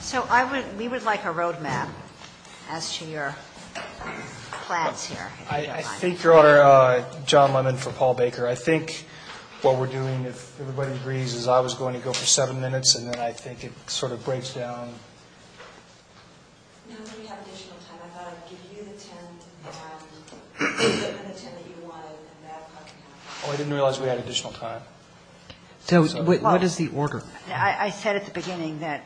So we would like a road map as to your plans here. I think, Your Honor, John Lemon for Paul Baker. I think what we're doing, if everybody agrees, is I was going to go for seven minutes and then I think it sort of breaks down. We do have additional time. I thought if you could do the ten that you wanted at that time. Oh, I didn't realize we had additional time. What is the order? I said at the beginning that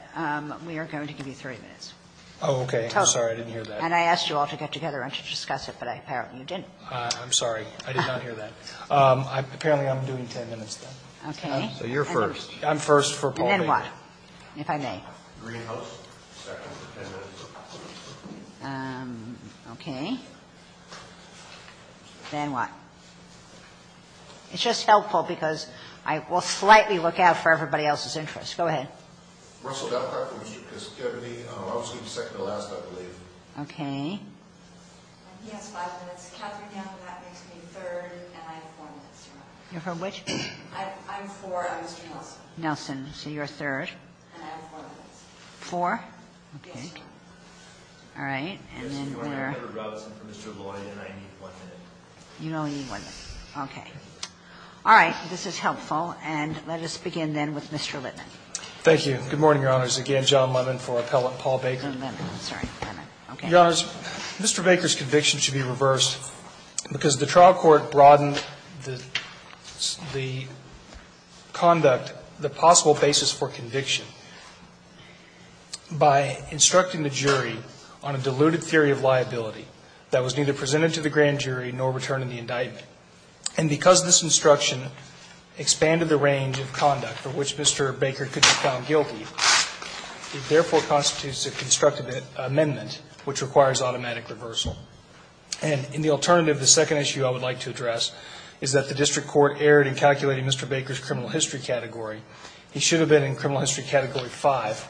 we were going to give you 30 minutes. Oh, okay. I'm sorry. I didn't hear that. And I asked you all to get together and to discuss it, but apparently you didn't. I'm sorry. I did not hear that. Apparently I'm doing ten minutes then. Okay. So you're first. I'm first for Paul Baker. Then what? If I may. Greenhouse second. Okay. Then what? It's just helpful because I will slightly look out for everybody else's interest. Go ahead. Okay. You're for which? Nelson. So you're third. Four? Okay. All right. And then what are... You only need one. Okay. All right. This is helpful. And let us begin then with Mr. Littman. Thank you. Good morning, Your Honors. Again, John Littman for appellate Paul Baker. Littman. I'm sorry. Littman. Okay. Your Honors, Mr. Baker's conviction should be reversed because the trial court broadened the conduct, the possible basis for conviction by instructing the jury on a diluted theory of liability that was neither presented to the grand jury nor returned in the indictment. And because this instruction expanded the range of conduct for which Mr. Baker could be found guilty, it therefore constitutes a constructive amendment which requires automatic reversal. And in the alternative, the second issue I would like to address is that the district court erred in calculating Mr. Baker's criminal history category. He should have been in criminal history category 5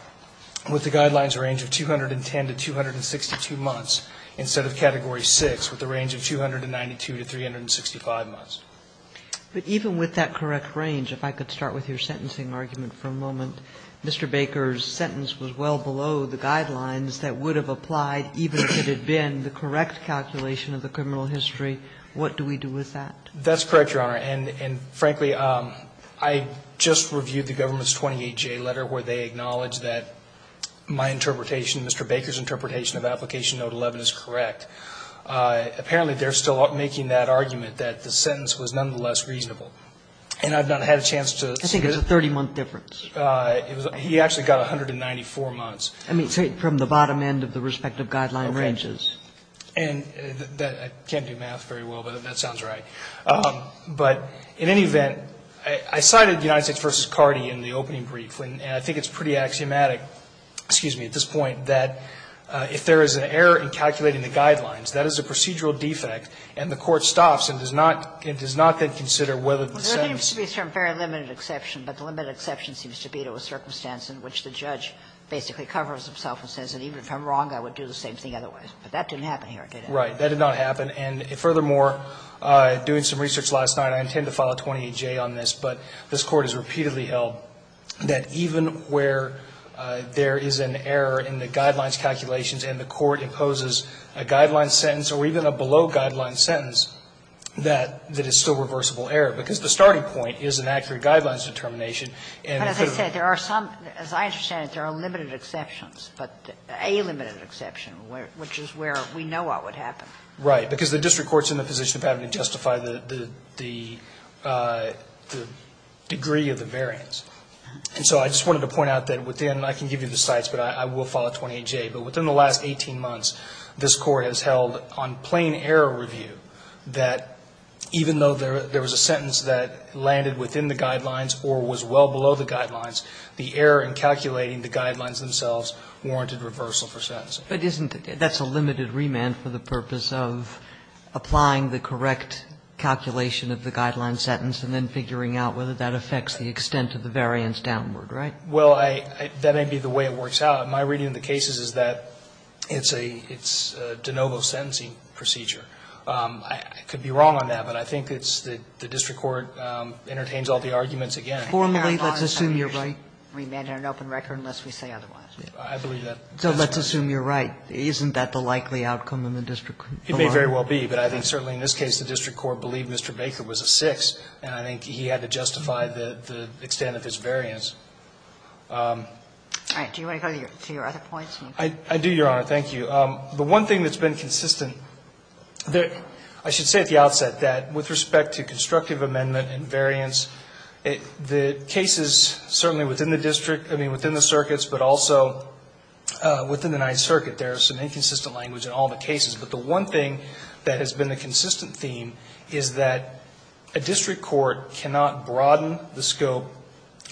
with the guidelines range of 210 to 262 months instead of category 6 with the range of 292 to 365 months. But even with that correct range, if I could start with your sentencing argument for a moment, Mr. Baker's sentence was well below the guidelines that would have applied even if it had been the correct calculation of the criminal history. What do we do with that? That's correct, Your Honor. And frankly, I just reviewed the government's 28-J letter where they acknowledged that my interpretation, Mr. Baker's interpretation of application note 11 is correct. Apparently, they're still making that argument that the sentence was nonetheless reasonable. And I've not had a chance to... I think it's a 30-month difference. He actually got 194 months. I mean, from the bottom end of the respective guideline ranges. Okay. And I can't do math very well, but that sounds right. But in any event, I cited United States v. Cardi in the opening brief, and I think it's pretty axiomatic, excuse me, at this point, that if there is an error in calculating the guidelines, that is a procedural defect, and the court stops and does not then consider whether the sentence... There seems to be some very limited exception, but the limited exception seems to be to a circumstance in which the judge basically covers himself and says that even if I'm wrong, I would do the same thing otherwise. But that didn't happen here, did it? Right. That did not happen. And furthermore, doing some research last night, I intend to file a 28-J on this, but this court has repeatedly held that even where there is an error in the guidelines calculations and the court imposes a guideline sentence or even a below-guideline sentence, that is still reversible error, because the starting point is an accurate guidelines determination. As I understand it, there are limited exceptions, but a limited exception, which is where we know what would happen. Right, because the district court is in the position of having to justify the degree of the variance. And so I just wanted to point out that within... I can give you the sites, but I will file a 28-J. But within the last 18 months, this court has held on plain error review that even though there was a sentence that landed within the guidelines or was well below the guidelines, the error in calculating the guidelines themselves warranted reversal for sentencing. But that's a limited remand for the purpose of applying the correct calculation of the guideline sentence and then figuring out whether that affects the extent of the variance downward, right? Well, that may be the way it works out. My reading of the cases is that it's a de novo sentencing procedure. I could be wrong on that, but I think it's that the district court entertains all the arguments again. Formerly, let's assume you're right. Remand had an open record unless we say otherwise. I believe that. So let's assume you're right. Isn't that the likely outcome in the district court? It may very well be, but I think certainly in this case, the district court believed Mr. Baker was a six, and I think he had to justify the extent of his variance. All right. Do you want to go to your other points? I do, Your Honor. Thank you. The one thing that's been consistent, I should say at the outset that with respect to constructive amendment and variance, the cases certainly within the district, I mean, within the circuits, but also within the Ninth Circuit, there is some inconsistent language in all the cases. But the one thing that has been the consistent theme is that a district court cannot broaden the scope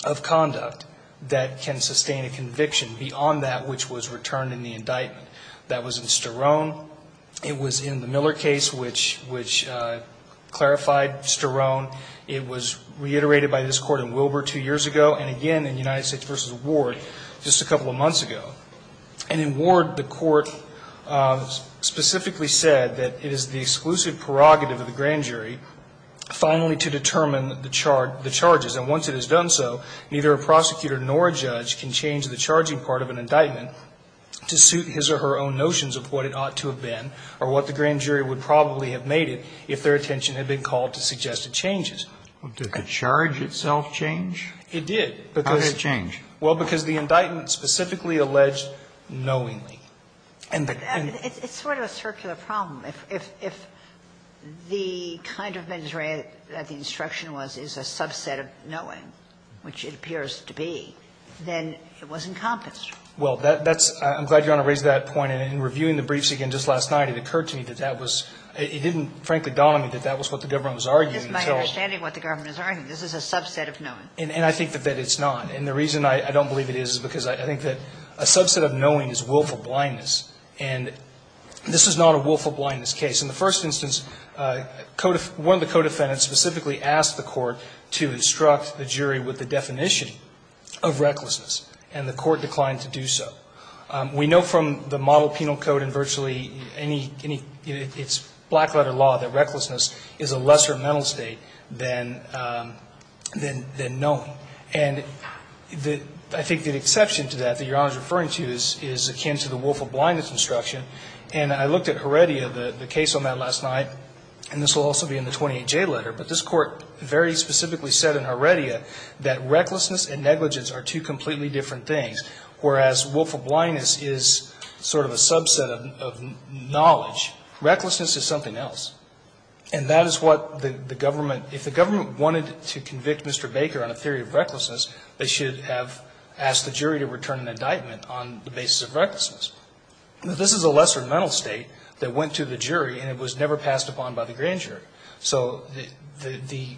of conduct that can sustain a conviction beyond that which was returned in the indictment. That was in Sterone. It was in the Miller case, which clarified Sterone. It was reiterated by this court in Wilbur two years ago, and again in United States v. Ward just a couple of months ago. And in Ward, the court specifically said that it is the exclusive prerogative of the grand jury finally to determine the charges. And once it has done so, neither a prosecutor nor a judge can change the charging part of an indictment to suit his or her own notions of what it ought to have been or what the grand jury would probably have made it if their attention had been called to suggest it changes. Did the charge itself change? It did. How did it change? Well, because the indictment specifically alleged knowingly. It's sort of a circular problem. If the kind of injury that the instruction was is a subset of knowing, which it appears to be, then it was encompassed. Well, I'm glad you want to raise that point. In reviewing the briefs again just last night, it occurred to me that that was – it didn't frankly dawn on me that that was what the government was arguing. It's my understanding of what the government is arguing. This is a subset of knowing. And I think that it's not. And the reason I don't believe it is because I think that a subset of knowing is willful blindness. And this is not a willful blindness case. In the first instance, one of the co-defendants specifically asked the court to instruct the jury with the definition of recklessness. And the court declined to do so. We know from the model penal code and virtually any – it's black-letter law that recklessness is a lesser mental state than knowing. And I think the exception to that that you're all referring to is it came to the willful blindness instruction. And I looked at Heredia, the case on that last night, and this will also be in the 28J letter, but this court very specifically said in Heredia that recklessness and negligence are two completely different things, whereas willful blindness is sort of a subset of knowledge. Recklessness is something else. And that is what the government – if the government wanted to convict Mr. Baker on a theory of recklessness, they should have asked the jury to return an indictment on the basis of recklessness. This is a lesser mental state that went to the jury and it was never passed upon by the grand jury. So the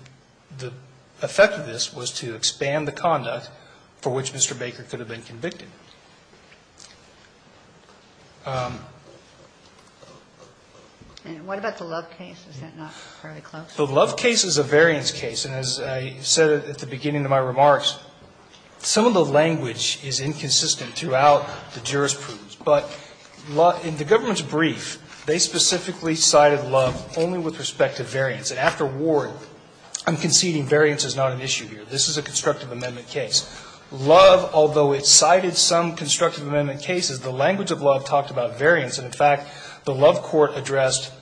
effect of this was to expand the conduct for which Mr. Baker could have been convicted. And what about the Love case? Is that not fairly close? The Love case is a variance case. And as I said at the beginning of my remarks, some of the language is inconsistent throughout the jurors' proofs. But in the government's brief, they specifically cited Love only with respect to variance. And after Ward, I'm conceding variance is not an issue here. This is a constructive amendment case. Love, although it cited some constructive amendment cases, the language of Love talked about variance. And, in fact, the Love court addressed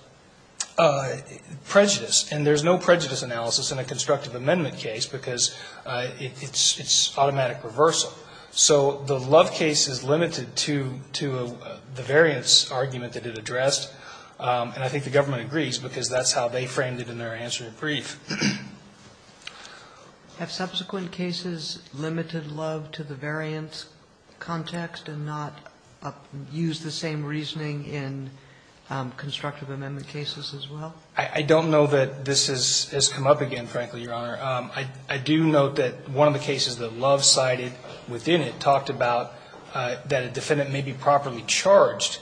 prejudice. And there's no prejudice analysis in a constructive amendment case because it's automatic reversal. So the Love case is limited to the variance argument that it addressed. And I think the government agrees because that's how they framed it in their answer in the brief. Had subsequent cases limited Love to the variance context and not used the same reasoning in constructive amendment cases as well? I don't know that this has come up again, frankly, Your Honor. I do note that one of the cases that Love cited within it talked about that a defendant may be properly charged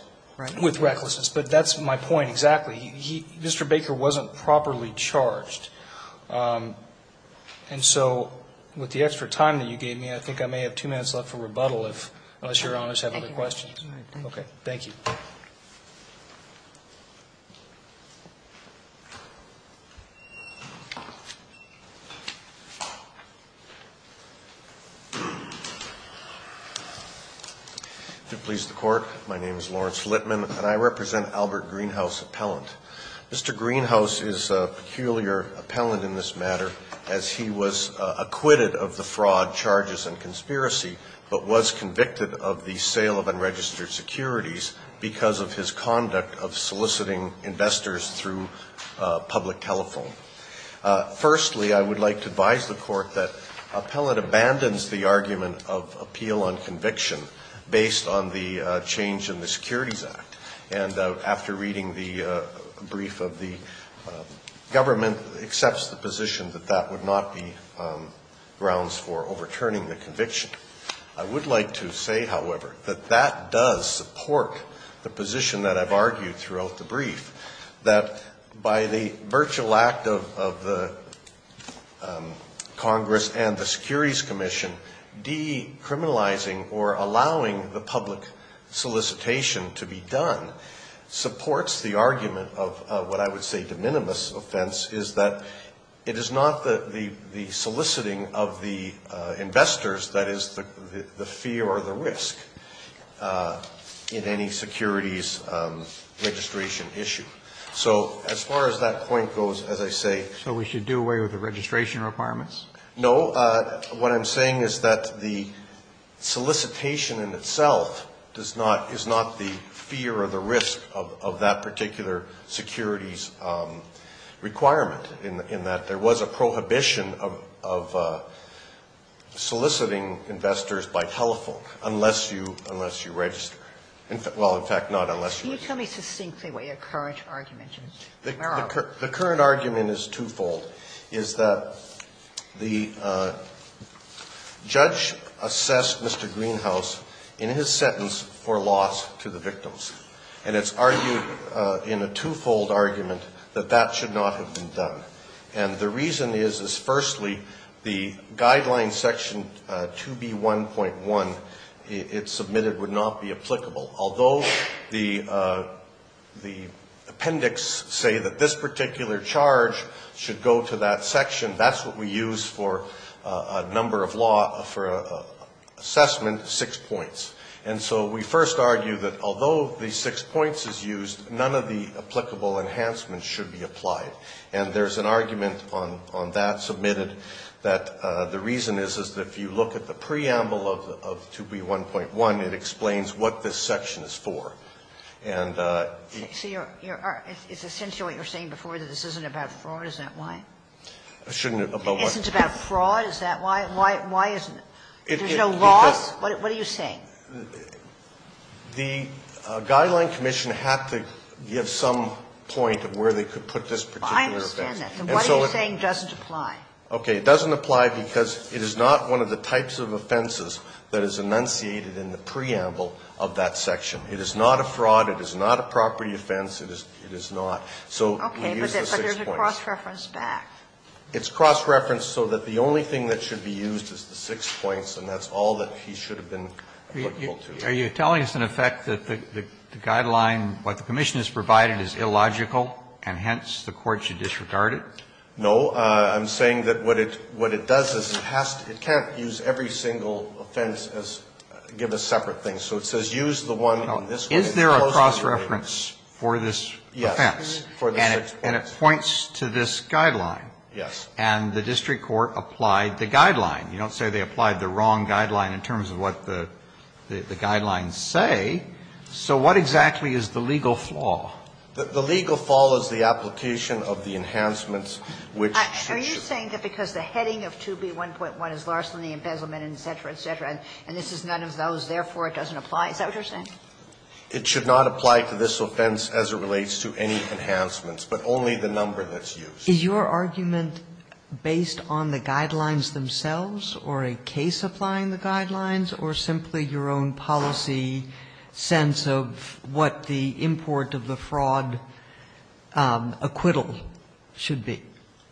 with recklessness. But that's my point exactly. Mr. Baker wasn't properly charged. And so with the extra time that you gave me, I think I may have two minutes left for rebuttal unless Your Honor has other questions. Okay. Thank you. Thank you, Your Honor. If it pleases the court, my name is Lawrence Litman, and I represent Albert Greenhouse Appellant. Mr. Greenhouse is a peculiar appellant in this matter as he was acquitted of the fraud, charges, and conspiracy, but was convicted of the sale of unregistered securities because of his conduct of soliciting investors through public telephone. Firstly, I would like to advise the court that appellant abandons the argument of appeal on conviction based on the change in the Securities Act. And after reading the brief of the government, accepts the position that that would not be grounds for overturning the conviction. I would like to say, however, that that does support the position that I've argued throughout the brief, that by the virtual act of the Congress and the Securities Commission decriminalizing or allowing the public solicitation to be done, supports the argument of what I would say de minimis offense, is that it is not the soliciting of the investors that is the fear or the risk in any securities registration issue. So as far as that point goes, as I say... So we should do away with the registration requirements? No, what I'm saying is that the solicitation in itself is not the fear or the risk of that particular securities requirement, in that there was a prohibition of soliciting investors by telephone, unless you register. Well, in fact, not unless you register. Can you tell me succinctly what your current argument is? The current argument is twofold. It's that the judge assessed Mr. Greenhouse in his sentence for loss to the victims. And it's argued in a twofold argument that that should not have been done. And the reason is, is firstly, the guideline section 2B1.1 it submitted would not be applicable. Although the appendix say that this particular charge should go to that section, that's what we use for a number of law for assessment, six points. And so we first argue that although these six points is used, none of the applicable enhancements should be applied. And there's an argument on that submitted that the reason is that if you look at the preamble of 2B1.1, it explains what this section is for. So it's essentially what you were saying before, that this isn't about fraud, is that why? It shouldn't be about what? It's about fraud, is that why? Why isn't it? There's no law? What are you saying? The Guideline Commission have to give some point of where they could put this particular offense. I understand that. What you're saying doesn't apply. Okay, it doesn't apply because it is not one of the types of offenses that is enunciated in the preamble of that section. It is not a fraud. It is not a property offense. It is not. Okay, but there's a cross-reference back. It's cross-referenced so that the only thing that should be used is the six points, and that's all that he should have been applicable to. Are you telling us, in effect, that the Guideline, what the Commission has provided is illogical, and hence the court should disregard it? No. I'm saying that what it does is it can't use every single offense as a separate thing. So it says use the one in this case. Is there a cross-reference for this offense? Yes. And it points to this guideline? Yes. And the district court applied the guideline. You don't say they applied the wrong guideline in terms of what the guidelines say. So what exactly is the legal flaw? The legal flaw is the application of the enhancements, which should be used. Are you saying that because the heading of 2B1.1 is larceny, embezzlement, et cetera, et cetera, and this is none of those, therefore it doesn't apply? Is that what you're saying? It should not apply to this offense as it relates to any enhancements, but only the number that's used. Is your argument based on the guidelines themselves or a case applying the guidelines or simply your own policy sense of what the import of the fraud acquittal should be?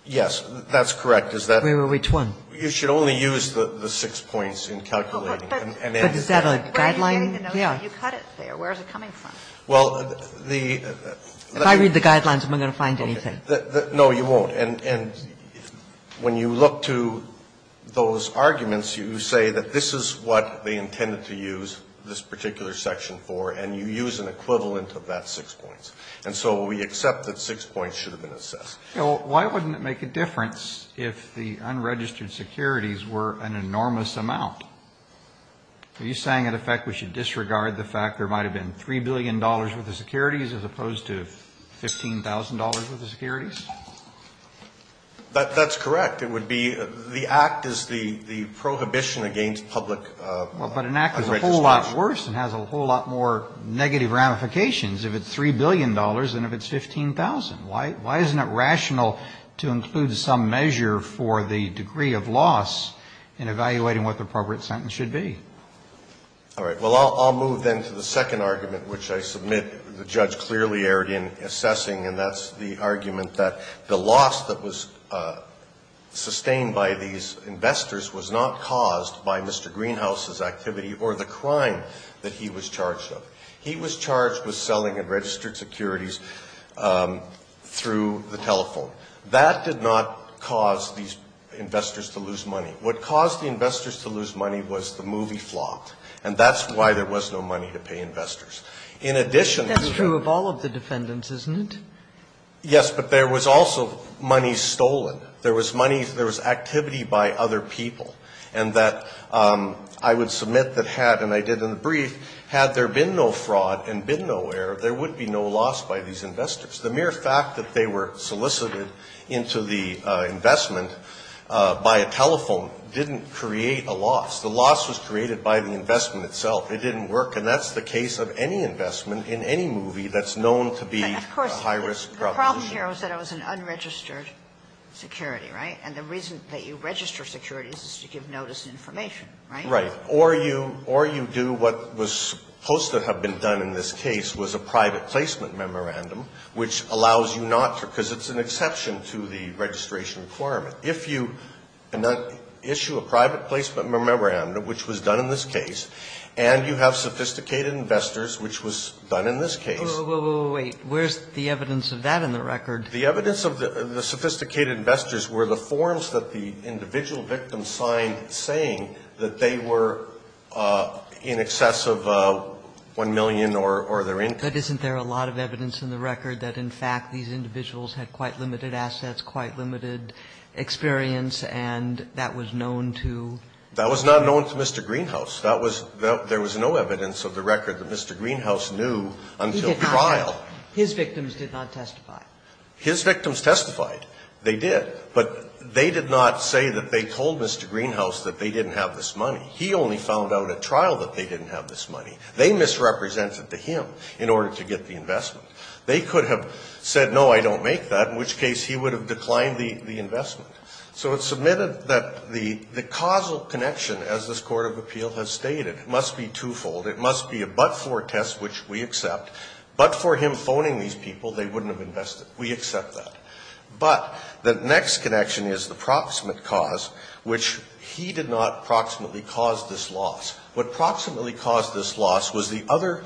Yes, that's correct. Which one? You should only use the six points in calculating. Is that a guideline? You cut it there. Where is it coming from? If I read the guidelines, I'm not going to find anything. No, you won't. When you look to those arguments, you say that this is what they intended to use this particular section for, and you use an equivalent of that six points. And so we accept that six points should have been assessed. So why wouldn't it make a difference if the unregistered securities were an enormous amount? Are you saying, in effect, we should disregard the fact there might have been $3 billion worth of securities as opposed to $15,000 worth of securities? That's correct. It would be the act is the prohibition against public. But an act is a whole lot worse and has a whole lot more negative ramifications if it's $3 billion than if it's $15,000. Why isn't it rational to include some measure for the degree of loss in evaluating what the appropriate sentence should be? All right. Well, I'll move then to the second argument, which I submit the judge clearly erred in assessing, and that's the argument that the loss that was sustained by these investors was not caused by Mr. Greenhouse's activity or the crime that he was charged with. He was charged with selling unregistered securities through the telephone. That did not cause these investors to lose money. What caused the investors to lose money was the movie flop, and that's why there was no money to pay investors. That's true of all of the defendants, isn't it? Yes, but there was also money stolen. There was activity by other people, and that I would submit that had, and I did in the brief, had there been no fraud and been no error, there would be no loss by these investors. The mere fact that they were solicited into the investment by a telephone didn't create a loss. The loss was created by the investment itself. It didn't work, and that's the case of any investment in any movie that's known to be a high-risk production. The problem here is that it was an unregistered security, right? And the reason that you register securities is to give notice and information, right? Right. Or you do what was supposed to have been done in this case was a private placement memorandum, which allows you not to, because it's an exception to the registration requirement. If you issue a private placement memorandum, which was done in this case, and you have sophisticated investors, which was done in this case. Wait, where's the evidence of that in the record? The evidence of the sophisticated investors were the forms that the individual victim signed, saying that they were in excess of $1 million or their income. But isn't there a lot of evidence in the record that, in fact, these individuals had quite limited assets, quite limited experience, and that was known to? That was not known to Mr. Greenhouse. There was no evidence of the record that Mr. Greenhouse knew until trial. His victims did not testify. His victims testified. They did. But they did not say that they told Mr. Greenhouse that they didn't have this money. He only found out at trial that they didn't have this money. They misrepresented to him in order to get the investment. They could have said, no, I don't make that, in which case he would have declined the investment. So it's submitted that the causal connection, as this Court of Appeal has stated, must be twofold. It must be a but-for test, which we accept. But for him phoning these people, they wouldn't have invested. We accept that. But the next connection is the proximate cause, which he did not proximately cause this loss. What proximately caused this loss was the other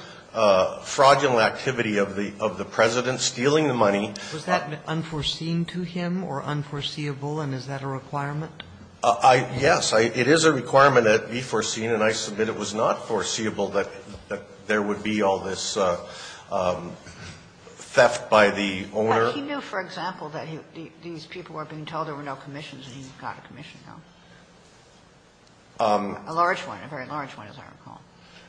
fraudulent activity of the President stealing the money. Was that unforeseen to him or unforeseeable, and is that a requirement? Yes. It is a requirement that it be foreseen, and I submit it was not foreseeable that there would be all this theft by the owner. But he knew, for example, that these people were being told there were no commissions, and he got a commission, no? A large one, a very large one, as I recall.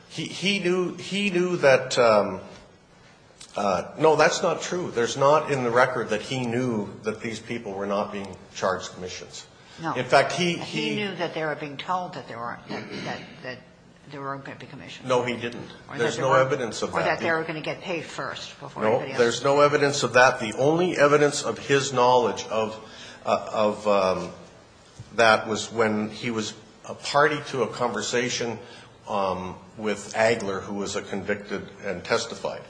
He knew that – no, that's not true. There's not in the record that he knew that these people were not being charged commissions. No. In fact, he – He knew that they were being told that there were going to be commissions. No, he didn't. There's no evidence of that. Or that they were going to get paid first before anybody else. No, there's no evidence of that. The only evidence of his knowledge of that was when he was a party to a conversation with Agler, who was a convicted and testified.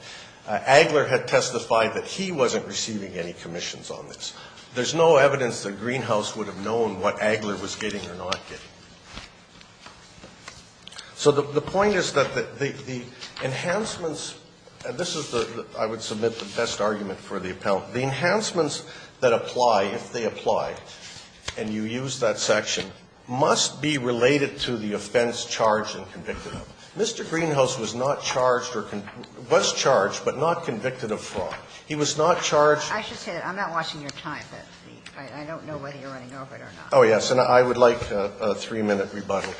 Agler had testified that he wasn't receiving any commissions on this. There's no evidence that Greenhouse would have known what Agler was getting or not getting. So the point is that the enhancements – this is the – I would submit the best argument for the appellant. The enhancements that apply, if they apply, and you use that section, must be related to the offense charged and convicted of. Mr. Greenhouse was not charged – was charged but not convicted of fraud. He was not charged – I should say that I'm not watching your time. I don't know whether you're running over it or not. Oh, yes. And I would like a three-minute rebuttal.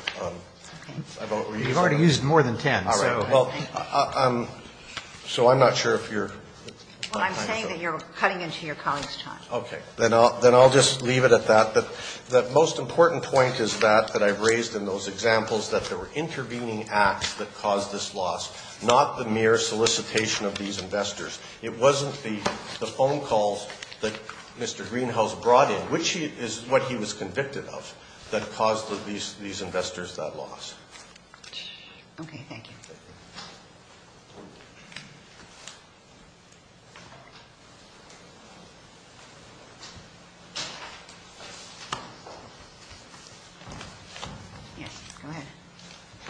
You've already used more than ten. All right. Well, I'm – so I'm not sure if you're – Well, I'm saying that you're cutting into your colleague's time. Okay. Then I'll just leave it at that. The most important point is that I've raised in those examples that there were intervening acts that caused this loss, not the mere solicitation of these investors. It wasn't the phone calls that Mr. Greenhouse brought in, which is what he was convicted of, that caused these investors that loss. Okay. Thank you. Yes. Go ahead.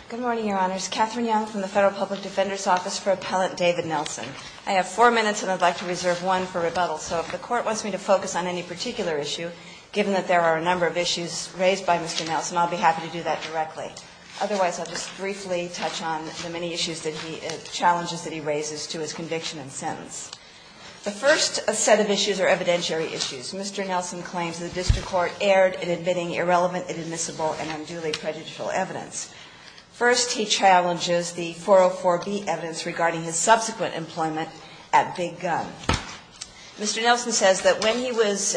Good morning, Your Honors. Catherine Young from the Federal Public Defender's Office for Appellant David Nelson. I have four minutes, and I'd like to reserve one for rebuttal. So if the Court wants me to focus on any particular issue, given that there are a number of issues raised by Mr. Nelson, I'll be happy to do that directly. Otherwise, I'll just briefly touch on the many issues that he – challenges that he raises to his conviction and sentence. The first set of issues are evidentiary issues. Mr. Nelson claims the Vista Court erred in admitting irrelevant, inadmissible, and unduly prejudicial evidence. First, he challenges the 404B evidence regarding his subsequent employment at Big Gun. Mr. Nelson says that when he was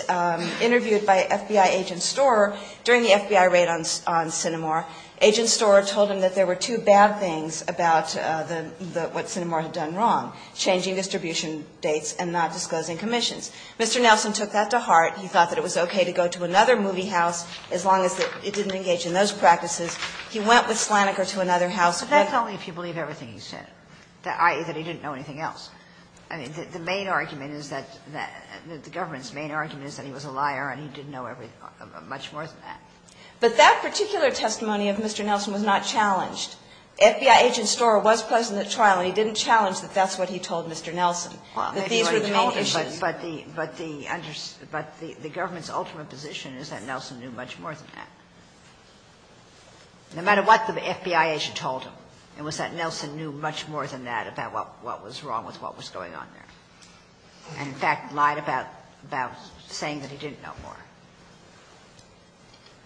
interviewed by FBI agent Storer during the FBI raid on Cinnamor, agent Storer told him that there were two bad things about what Cinnamor had done wrong, changing distribution dates and not disclosing commissions. Mr. Nelson took that to heart. He thought that it was okay to go to another movie house as long as it didn't engage in those practices. He went with Slaniker to another house. But that's only if you believe everything he said, i.e., that he didn't know anything else. I mean, the main argument is that – the government's main argument is that he was a liar, and he didn't know much more than that. But that particular testimony of Mr. Nelson was not challenged. FBI agent Storer was present at trial, and he didn't challenge that that's what he told Mr. Nelson. But the government's ultimate position is that Nelson knew much more than that. No matter what the FBI agent told him, it was that Nelson knew much more than that about what was wrong with what was going on there. In fact, lied about saying that he didn't know more.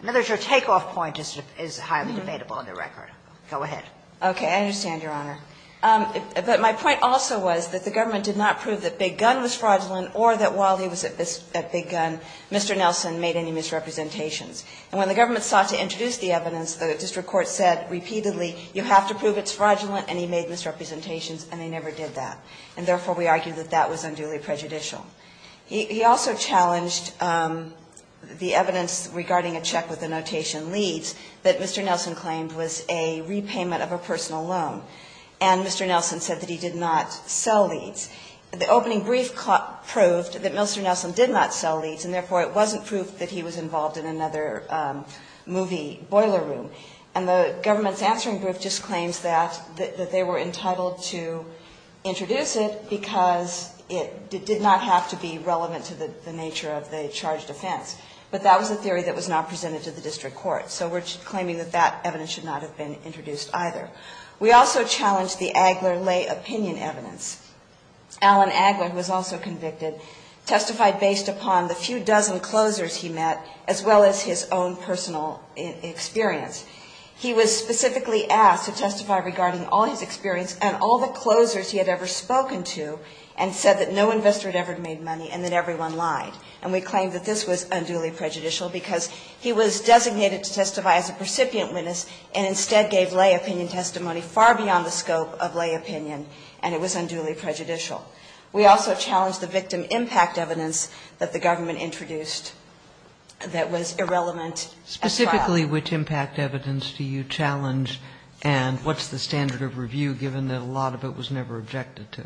In other words, your takeoff point is highly debatable on the record. Go ahead. Okay. I understand, Your Honor. But my point also was that the government did not prove that Big Gun was fraudulent or that while he was at Big Gun, Mr. Nelson made any misrepresentations. And when the government sought to introduce the evidence, the district court said repeatedly, you have to prove it's fraudulent, and he made misrepresentations, and he never did that. And therefore, we argue that that was unduly prejudicial. He also challenged the evidence regarding a check with the notation leads that Mr. Nelson claimed was a repayment of a personal loan. And Mr. Nelson said that he did not sell these. The opening brief proved that Mr. Nelson did not sell these, and therefore it wasn't proof that he was involved in another movie, Boiler Room. And the government's answering group just claims that they were entitled to introduce it because it did not have to be relevant to the nature of the charged offense. But that was a theory that was not presented to the district court. So we're claiming that that evidence should not have been introduced either. We also challenged the Agler lay opinion evidence. Alan Agler, who was also convicted, testified based upon the few dozen closers he met as well as his own personal experience. He was specifically asked to testify regarding all his experience and all the closers he had ever spoken to and said that no investor had ever made money and that everyone lied. And we claim that this was unduly prejudicial because he was designated to testify as a recipient witness and instead gave lay opinion testimony far beyond the scope of lay opinion, and it was unduly prejudicial. We also challenged the victim impact evidence that the government introduced that was irrelevant as well. Specifically which impact evidence do you challenge, and what's the standard of review given that a lot of it was never objected to?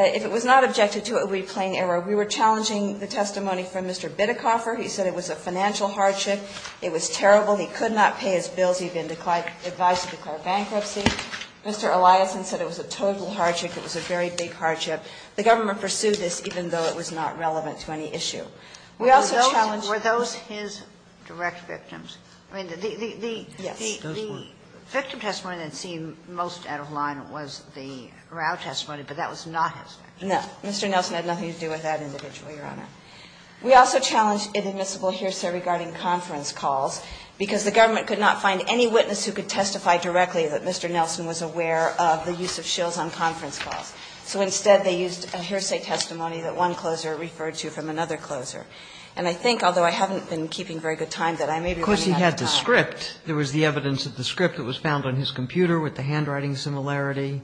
If it was not objected to, it would be plain error. We were challenging the testimony from Mr. Bittercoffer. He said it was a financial hardship. It was terrible. He could not pay his bills. He had been advised to declare bankruptcy. Mr. Eliasson said it was a total hardship. It was a very big hardship. The government pursued this even though it was not relevant to any issue. Were those his direct victims? I mean, the victim testimony that seemed most out of line was the morale testimony, but that was not his. No, Mr. Nelson had nothing to do with that individually, Your Honor. We also challenged inadmissible hearsay regarding conference calls because the government could not find any witness who could testify directly that Mr. Nelson was aware of the use of shills on conference calls. So instead they used a hearsay testimony that one closer referred to from another closer. And I think, although I haven't been keeping very good time, that I may be wrong. Of course, he had the script. There was the evidence of the script that was found on his computer with the handwriting similarity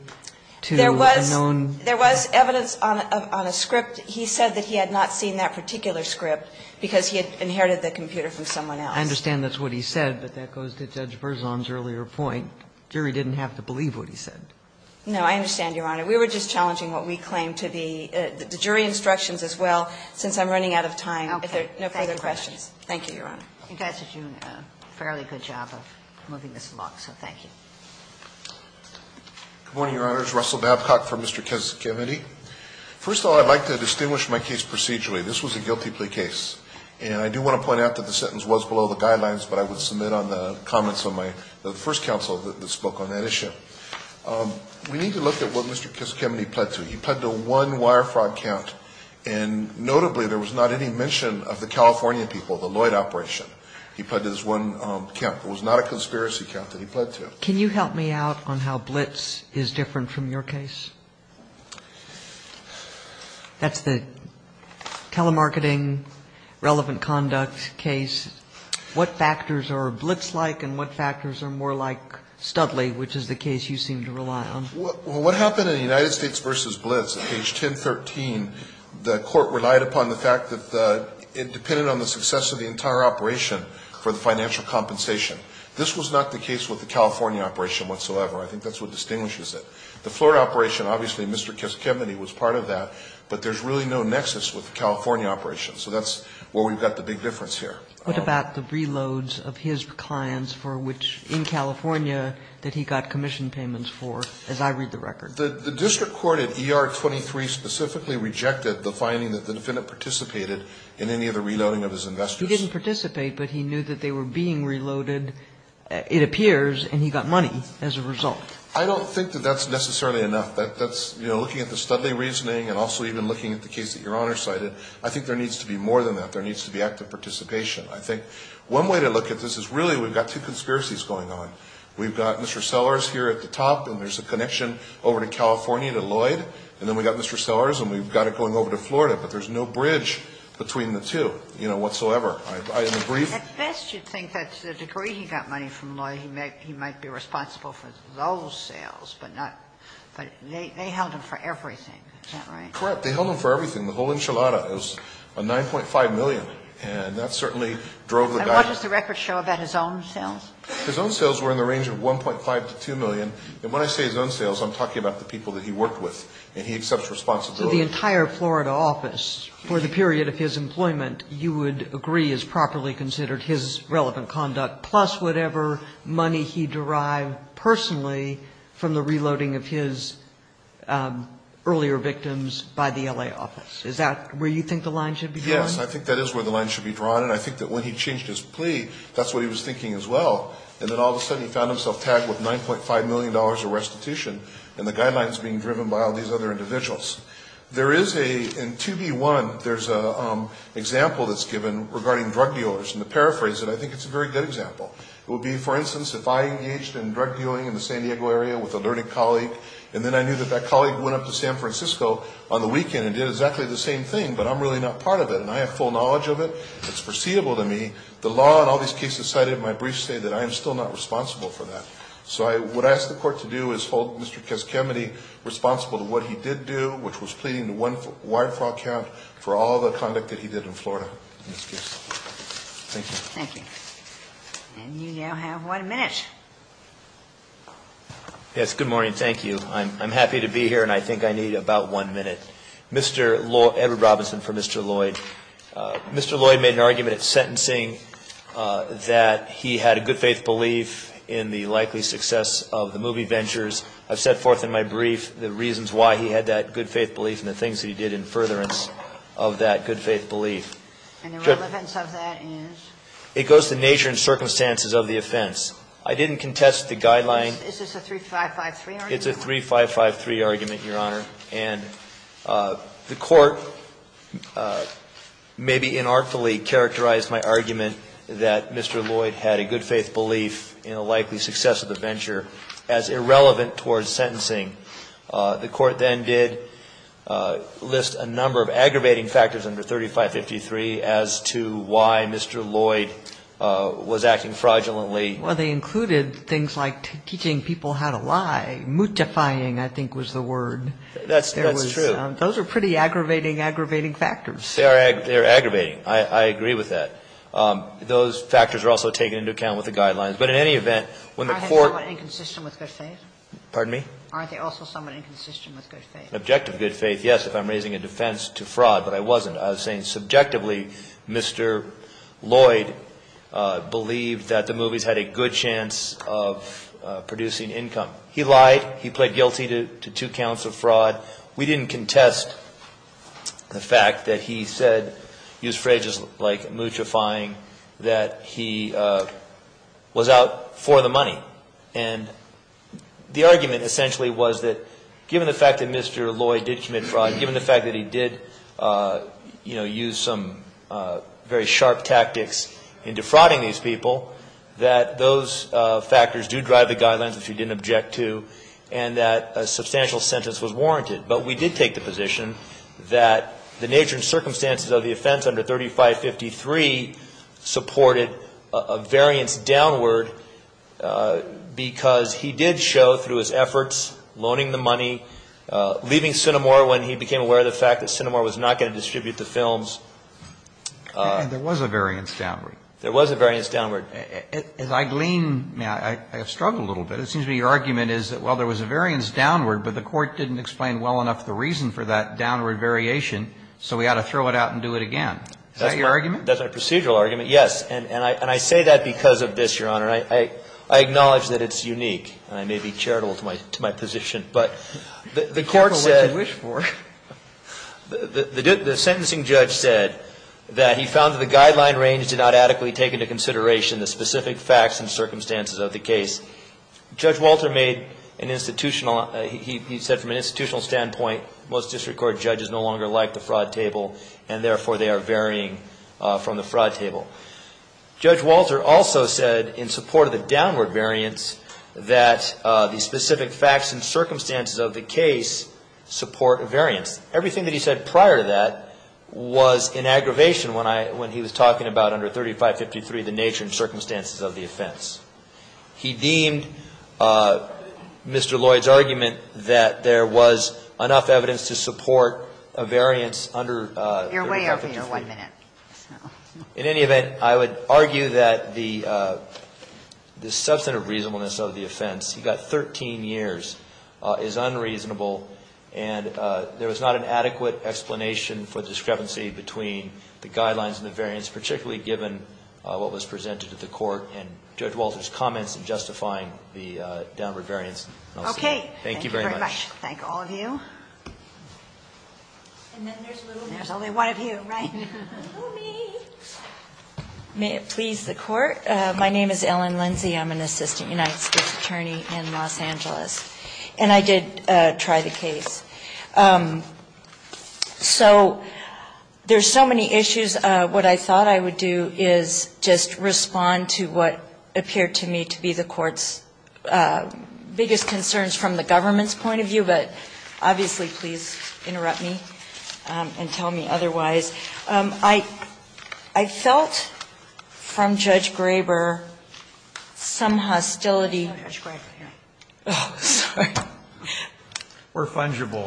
to a known ---- There was evidence on a script. He said that he had not seen that particular script because he had inherited the computer from someone else. I understand that's what he said, but that goes to Judge Berzon's earlier point. The jury didn't have to believe what he said. No, I understand, Your Honor. We were just challenging what we claim to be the jury instructions as well. Since I'm running out of time, if there are no further questions. Thank you, Your Honor. You guys have done a fairly good job of moving this along, so thank you. Good morning, Your Honors. Russell Babcock for Mr. Testimony. First of all, I'd like to distinguish my case procedurally. This was a guilty plea case, and I do want to point out that the sentence was below the guidelines, but I would submit on the comments of my first counsel that spoke on that issue. We need to look at what Mr. Testimony pled to. He pled to one wire fraud count, and notably there was not any mention of the Californian people, the Lloyd operation. He pled to this one count. It was not a conspiracy count that he pled to. Can you help me out on how Blitz is different from your case? At the telemarketing relevant conduct case, what factors are Blitz-like and what factors are more like Studley, which is the case you seem to rely on? What happened in the United States versus Blitz at page 1013, the court relied upon the fact that it depended on the success of the entire operation for the financial compensation. This was not the case with the California operation whatsoever. I think that's what distinguishes it. The Florida operation, obviously Mr. Testimony was part of that, but there's really no nexus with the California operation, so that's where we've got the big difference here. What about the reloads of his clients for which in California that he got commission payments for, as I read the record? The district court at ER 23 specifically rejected the finding that the defendant participated in any of the reloading of his investors. He didn't participate, but he knew that they were being reloaded, it appears, and he got money as a result. I don't think that that's necessarily enough. Looking at the Studley reasoning and also even looking at the case that Your Honor cited, I think there needs to be more than that. There needs to be active participation. One way to look at this is really we've got two conspiracies going on. We've got Mr. Sellers here at the top and there's a connection over to California to Lloyd, and then we've got Mr. Sellers and we've got it going over to Florida, but there's no bridge between the two whatsoever. I agree. At best, you'd think that to the degree he got money from Lloyd, he might be responsible for those sales, but they held him for everything, is that right? Correct. They held him for everything. The whole enchilada, it was $9.5 million, and that certainly drove the guy. And what does the record show about his own sales? His own sales were in the range of $1.5 to $2 million, and when I say his own sales, I'm talking about the people that he worked with and he accepts responsibility. So the entire Florida office, for the period of his employment, you would agree is properly considered his relevant conduct, plus whatever money he derived personally from the reloading of his earlier victims by the L.A. office. Is that where you think the line should be drawn? Yes, I think that is where the line should be drawn, and I think that when he changed his plea, that's what he was thinking as well, and then all of a sudden he found himself tagged with $9.5 million of restitution, and the guidelines being driven by all these other individuals. There is a, in 2B1, there's an example that's given regarding drug dealers, and to paraphrase it, I think it's a very good example. It would be, for instance, if I engaged in drug dealing in the San Diego area with a learning colleague, and then I knew that that colleague went up to San Francisco on the weekend and did exactly the same thing, but I'm really not part of it, and I have full knowledge of it, it's foreseeable to me, the law and all these cases cited in my brief say that I am still not responsible for that. So what I ask the court to do is hold Mr. Keskemity responsible for what he did do, which was pleading the one wire fraud count for all the conduct that he did in Florida in this case. Thank you. Thank you. And you now have one minute. Yes, good morning. Thank you. I'm happy to be here, and I think I need about one minute. Mr. Edward Robinson for Mr. Lloyd. Mr. Lloyd made an argument sentencing that he had a good faith belief in the likely success of the movie Ventures. I've set forth in my brief the reasons why he had that good faith belief and the things that he did in furtherance of that good faith belief. And the relevance of that is? It goes to the nature and circumstances of the offense. I didn't contest the guideline. Is this a 3553 argument? It's a 3553 argument, Your Honor. And the court maybe inartfully characterized my argument that Mr. Lloyd had a good faith belief in the likely success of the Venture as irrelevant towards sentencing. The court then did list a number of aggravating factors under 3553 as to why Mr. Lloyd was acting fraudulently. Well, they included things like teaching people how to lie. Mutifying, I think, was the word. That's true. Those are pretty aggravating, aggravating factors. They're aggravating. I agree with that. Those factors are also taken into account with the guidelines. But in any event, when the court- Aren't they also somewhat inconsistent with their faith? Pardon me? Aren't they also somewhat inconsistent with their faith? Objective good faith, yes, if I'm raising a defense to fraud, but I wasn't. I was saying subjectively Mr. Lloyd believed that the movie had a good chance of producing income. He lied. He pled guilty to two counts of fraud. We didn't contest the fact that he said he was afraid, just like mutifying, that he was out for the money. And the argument essentially was that given the fact that Mr. Lloyd did commit fraud, given the fact that he did use some very sharp tactics in defrauding these people, that those factors do drive the guidelines, which he didn't object to, and that a substantial sentence was warranted. But we did take the position that the nature and circumstances of the offense under 3553 supported a variance downward because he did show, through his efforts, loaning the money, leaving Cinemore when he became aware of the fact that Cinemore was not going to distribute the films. And there was a variance downward. There was a variance downward. If I glean now, I have struggled a little bit. It seems to me your argument is that, well, there was a variance downward, but the court didn't explain well enough the reason for that downward variation, so we ought to throw it out and do it again. Is that your argument? That's our procedural argument, yes. And I say that because of this, Your Honor. I acknowledge that it's unique, and I may be charitable to my position. But the court said... Charitable is what they wish for. The sentencing judge said that he found that the guideline range did not adequately take into consideration the specific facts and circumstances of the case. Judge Walter made an institutional... He said from an institutional standpoint, most district court judges no longer like the fraud table, and therefore they are varying from the fraud table. Judge Walter also said, in support of the downward variance, that the specific facts and circumstances of the case support a variance. Everything that he said prior to that was an aggravation when he was talking about under 3553, the nature and circumstances of the offense. He deemed Mr. Lloyd's argument that there was enough evidence to support a variance under... You're way over your one minute. In any event, I would argue that the substantive reasonableness of the offense, you've got 13 years, is unreasonable, and there was not an adequate explanation for the discrepancy between the guidelines and the variance, particularly given what was presented to the court, and Judge Walter's comments in justifying the downward variance. Okay. Thank you very much. Thank all of you. And then there's Lou. There's only one of you, right? May it please the court? My name is Ellen Lindsey. I'm an assistant United States attorney in Los Angeles, and I did try the case. So there's so many issues. What I thought I would do is just respond to what appeared to me to be the court's biggest concerns from the government's point of view, but obviously please interrupt me and tell me otherwise. I felt from Judge Graber some hostility. We're fungible.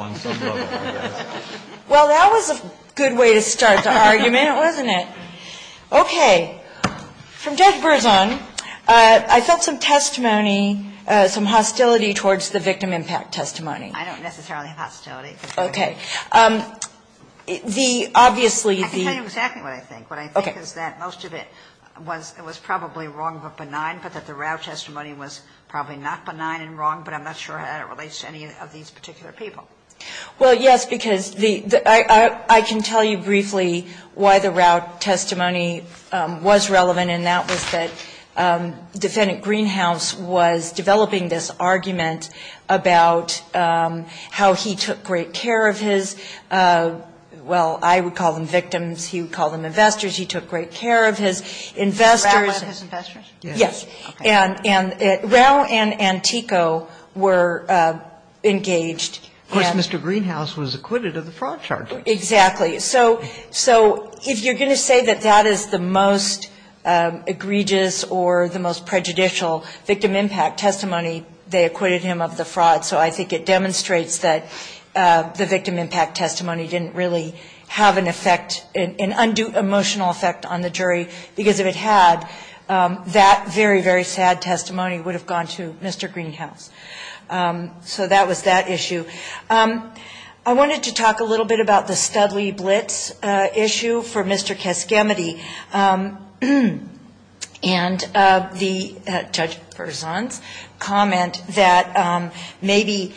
Well, that was a good way to start the argument, wasn't it? Okay. Okay. From Judge Berzon, I felt some testimony, some hostility towards the victim impact testimony. I don't necessarily have hostility. Okay. I can tell you exactly what I think. What I think is that most of it was probably wrong but benign, but that the route testimony was probably not benign and wrong, but I'm not sure how that relates to any of these particular people. Well, yes, because I can tell you briefly why the route testimony was relevant, and that was that Defendant Greenhouse was developing this argument about how he took great care of his, well, I would call them victims. He would call them investors. He took great care of his investors. Investors. Yes. Rao and Antico were engaged. Of course, Mr. Greenhouse was acquitted of the fraud charges. Exactly. So if you're going to say that that is the most egregious or the most prejudicial victim impact testimony, they acquitted him of the fraud. So I think it demonstrates that the victim impact testimony didn't really have an effect, an undue emotional effect on the jury, because if it had, that very, very sad testimony would have gone to Mr. Greenhouse. So that was that issue. I wanted to talk a little bit about the Spedley Blitz issue for Mr. Kaskamaty and Judge Berzon's comment that maybe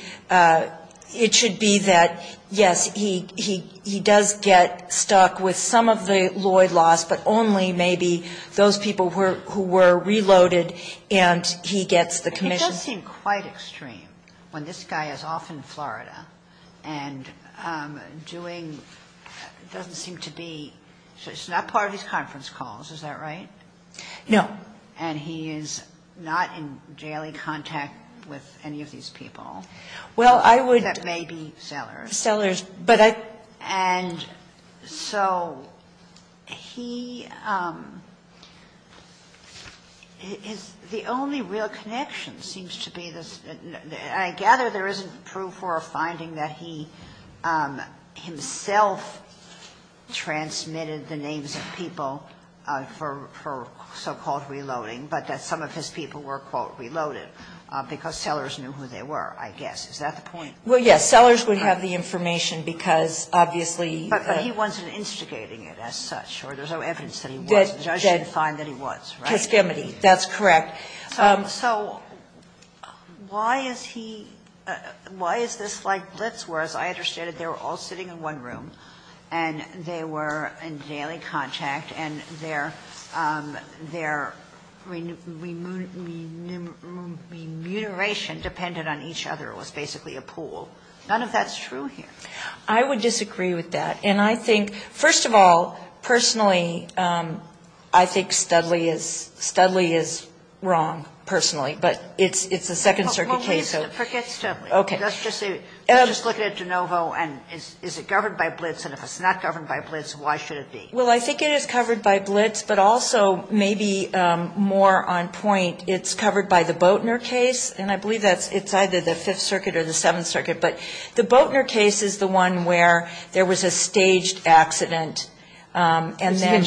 it should be that, yes, he does get stuck with some of the Lloyd loss, but only maybe those people who were reloaded, and he gets the commission. It does seem quite extreme when this guy is off in Florida and doing, it doesn't seem to be, it's not part of his conference calls, is that right? No. And he is not in daily contact with any of these people. Well, I would. That may be sellers. Sellers, but I. And so he, the only real connection seems to be this, and I gather there isn't proof or a finding that he himself transmitted the names of people for so-called reloading, but that some of his people were, quote, reloaded, because sellers knew who they were, I guess. Is that the point? Well, yes. Sellers would have the information, because obviously. But he wasn't instigating it as such, or there's no evidence that he was. The judge didn't find that he was, right? Kaskamaty, that's correct. So why is he, why is this like Blitzworth? I understand that they were all sitting in one room, and they were in daily contact, and their remuneration depended on each other. It was basically a pool. None of that is true here. I would disagree with that. And I think, first of all, personally, I think Studley is wrong, personally. But it's a Second Circuit case. Forget Studley. Okay. Let's just look at Genovo, and is it governed by Blitz? And if it's not governed by Blitz, why should it be? Well, I think it is covered by Blitz, but also maybe more on point, it's covered by the Boatner case, and I believe that it's either the Fifth Circuit or the Seventh Circuit. But the Boatner case is the one where there was a staged accident, and then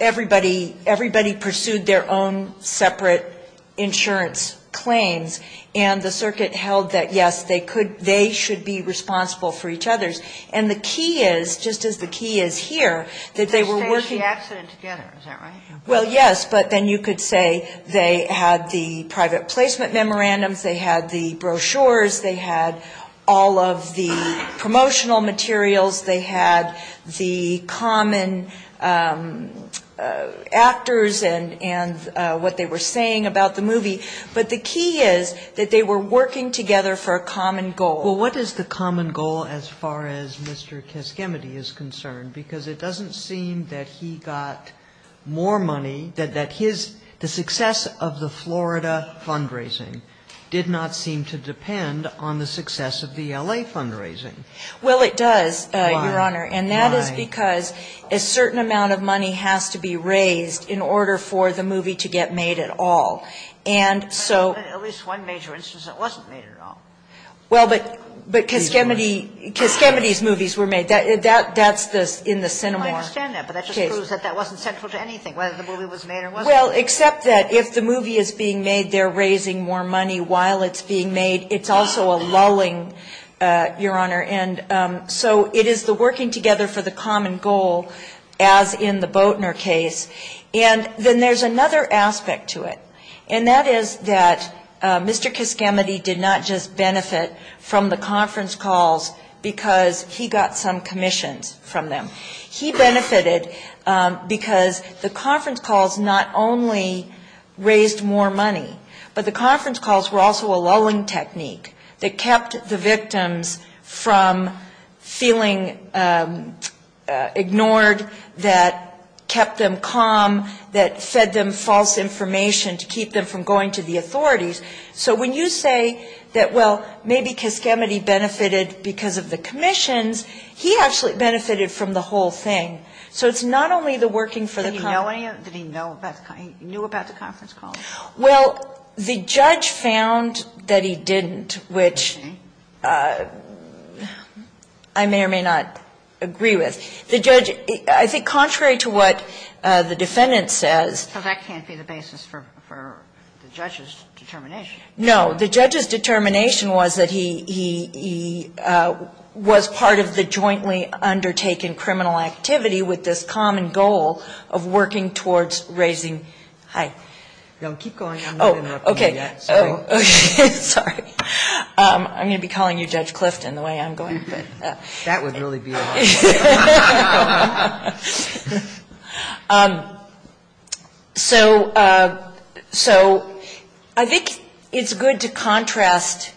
everybody pursued their own separate insurance claims, and the circuit held that, yes, they should be responsible for each other's. And the key is, just as the key is here, that they were working. They staged the accident together, is that right? Well, yes, but then you could say they had the private placement memorandums, they had the brochures, they had all of the promotional materials, they had the common actors and what they were saying about the movie. But the key is that they were working together for a common goal. Well, what is the common goal as far as Mr. Caschimedi is concerned? Because it doesn't seem that he got more money, that the success of the Florida fundraising did not seem to depend on the success of the L.A. fundraising. Well, it does, Your Honor, and that is because a certain amount of money has to be raised in order for the movie to get made at all. At least one major instance it wasn't made at all. Well, but Caschimedi's movies were made. That's in the cinema. I understand that, but that just proves that that wasn't central to anything, whether the movie was made or wasn't. Well, except that if the movie is being made, they're raising more money while it's being made. It's also a lulling, Your Honor. And so it is the working together for the common goal, as in the Boatner case. And then there's another aspect to it, and that is that Mr. Caschimedi did not just benefit from the conference calls because he got some commission from them. He benefited because the conference calls not only raised more money, but the conference calls were also a lulling technique that kept the victims from feeling ignored, that kept them calm, that fed them false information to keep them from going to the authorities. So when you say that, well, maybe Caschimedi benefited because of the commissions, he actually benefited from the whole thing. So it's not only the working for the conference calls. Did he know about the conference calls? Well, the judge found that he didn't, which I may or may not agree with. I think contrary to what the defendant says. Because that can't be the basis for the judge's determination. No. The judge's determination was that he was part of the jointly undertaken criminal activity with this common goal of working towards raising. Hi. No, keep going. Oh, okay. Sorry. I'm going to be calling you Judge Clifton the way I'm going. That would really be helpful. So I think it's good to contrast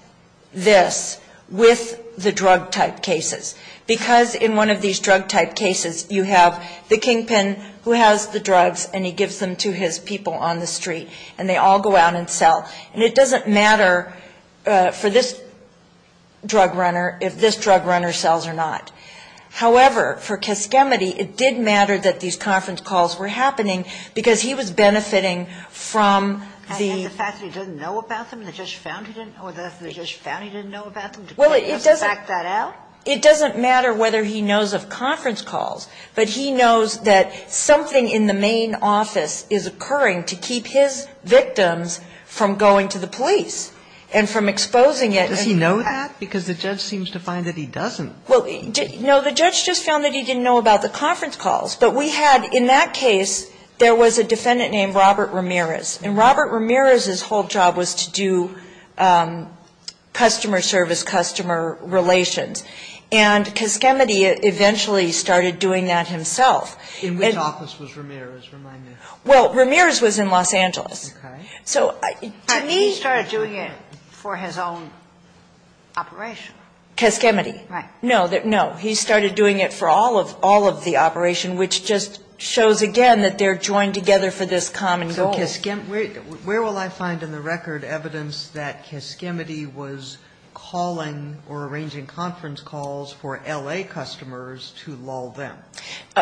this with the drug-type cases. Because in one of these drug-type cases, you have the kingpin who has the drugs and he gives them to his people on the street, and they all go out and sell. And it doesn't matter for this drug runner if this drug runner sells or not. However, for Keskemity, it did matter that these conference calls were happening because he was benefiting from the. I think the fact that he didn't know about them and the judge found he didn't or the judge found he didn't know about them to back that up? It doesn't matter whether he knows of conference calls, but he knows that something in the main office is occurring to keep his victims from going to the police and from exposing it. Does he know that? Because the judge seems to find that he doesn't. No, the judge just found that he didn't know about the conference calls. But we had, in that case, there was a defendant named Robert Ramirez. And Robert Ramirez's whole job was to do customer service, customer relations. And Keskemity eventually started doing that himself. In which office was Ramirez? Well, Ramirez was in Los Angeles. Okay. But he started doing it for his own operation. Keskemity. Right. No, he started doing it for all of the operation, which just shows again that they're joined together for this common goal. Where will I find in the record evidence that Keskemity was calling or arranging conference calls for L.A. customers to lull them?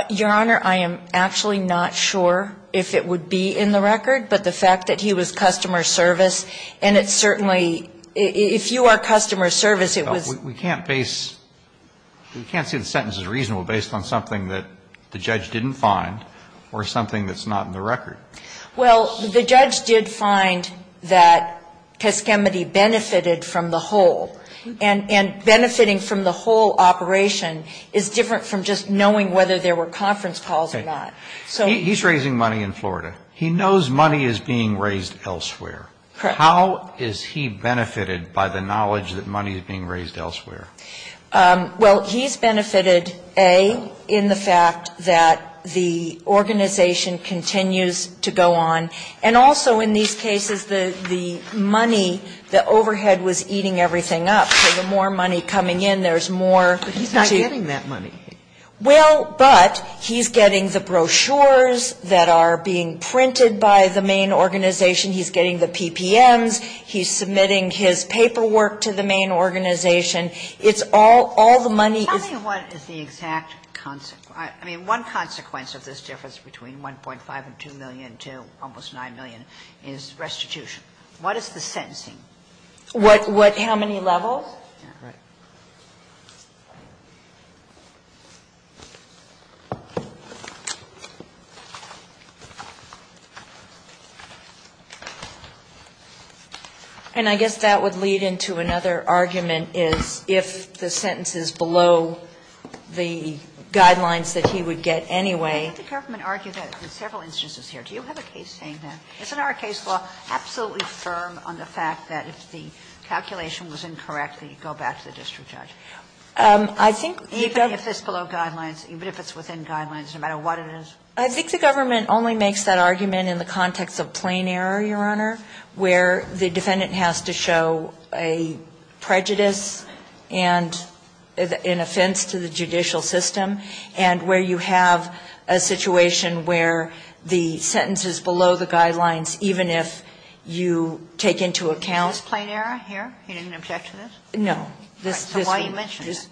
Your Honor, I am actually not sure if it would be in the record, but the fact that he was customer service and it certainly – if you are customer service, it was – We can't base – we can't say the sentence is reasonable based on something that the judge didn't find or something that's not in the record. Well, the judge did find that Keskemity benefited from the whole. And benefiting from the whole operation is different from just knowing whether there were conference calls or not. He's raising money in Florida. He knows money is being raised elsewhere. Correct. How is he benefited by the knowledge that money is being raised elsewhere? Well, he's benefited, A, in the fact that the organization continues to go on. And also in these cases, the money, the overhead was eating everything up. So the more money coming in, there's more – But he's not getting that money. Well, but he's getting the brochures that are being printed by the main organization. He's getting the PPMs. He's submitting his paperwork to the main organization. It's all – all the money is – Tell me what is the exact – I mean, one consequence of this difference between 1.5 and 2 million to almost 9 million is restitution. What is the sentencing? What – how many levels? And I guess that would lead into another argument is if the sentence is below the guidelines that he would get anyway. The government argued that for several instances here. Do you have a case saying that? Isn't our case law absolutely firm on the fact that if the calculation was incorrect, that you go back to the district judge? I think – Even if it's below guidelines, even if it's within guidelines, no matter what it is? I think the government only makes that argument in the context of plain error, Your Honor, where the defendant has to show a prejudice and an offense to the judicial system, and where you have a situation where the sentence is below the guidelines, even if you take into account – Is this plain error here? Are you making an objection to this? No. So why are you mentioning it?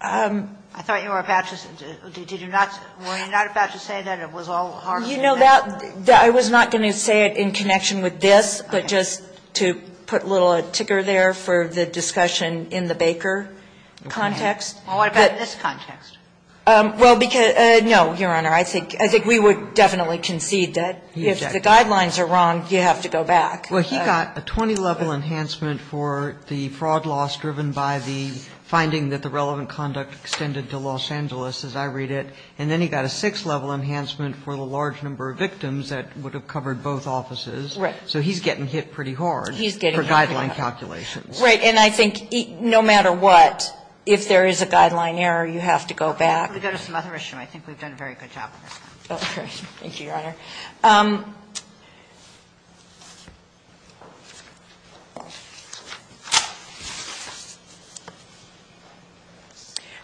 I thought you were about to – did you not – were you not about to say that it was all harsh? You know, that – I was not going to say it in connection with this, but just to put a little ticker there for the discussion in the Baker context. Well, what about in this context? Well, because – no, Your Honor. I think we would definitely concede that if the guidelines are wrong, you have to go back. Well, he got a 20-level enhancement for the fraud loss driven by the finding that the relevant conduct extended to Los Angeles, as I read it, and then he got a six-level enhancement for the large number of victims that would have covered both offices. Right. So he's getting hit pretty hard for guideline calculations. Right, and I think no matter what, if there is a guideline error, you have to go back. I think we've done a very good job of this. Okay. Thank you, Your Honor.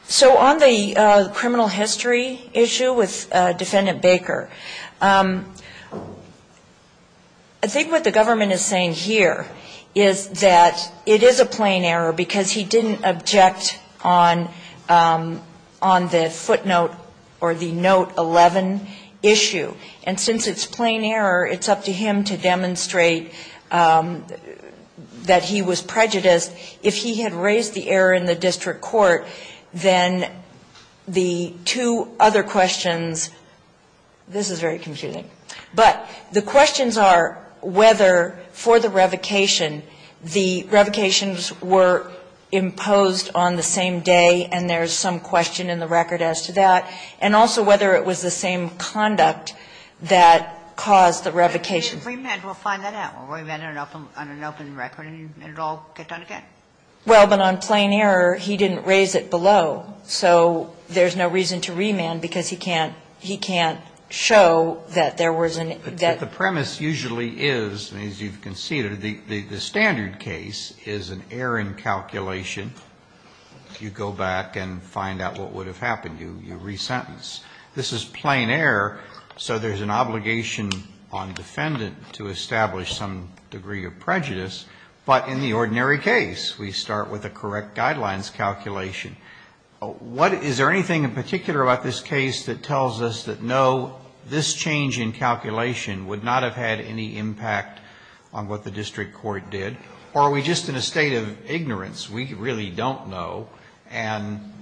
So on the criminal history issue with Defendant Baker, I think what the government is saying here is that it is a plain error because he didn't object on the footnote or the Note 11 issue. And since it's plain error, it's up to him to demonstrate that he was prejudiced. If he had raised the error in the district court, then the two other questions – this is very confusing. But the questions are whether for the revocation, the revocations were imposed on the same day, and there's some question in the record as to that, and also whether it was the same conduct that caused the revocation. If it was a remand, we'll find that out. We'll remand it under the open record and it'll all get done again. Well, but on plain error, he didn't raise it below. So there's no reason to remand because he can't show that there was an – But the premise usually is, as you've conceded, the standard case is an error in calculation. If you go back and find out what would have happened, you re-sentence. This is plain error, so there's an obligation on defendant to establish some degree of prejudice. But in the ordinary case, we start with a correct guidelines calculation. Is there anything in particular about this case that tells us that, no, this change in calculation would not have had any impact on what the district court did? Or are we just in a state of ignorance? We really don't know. And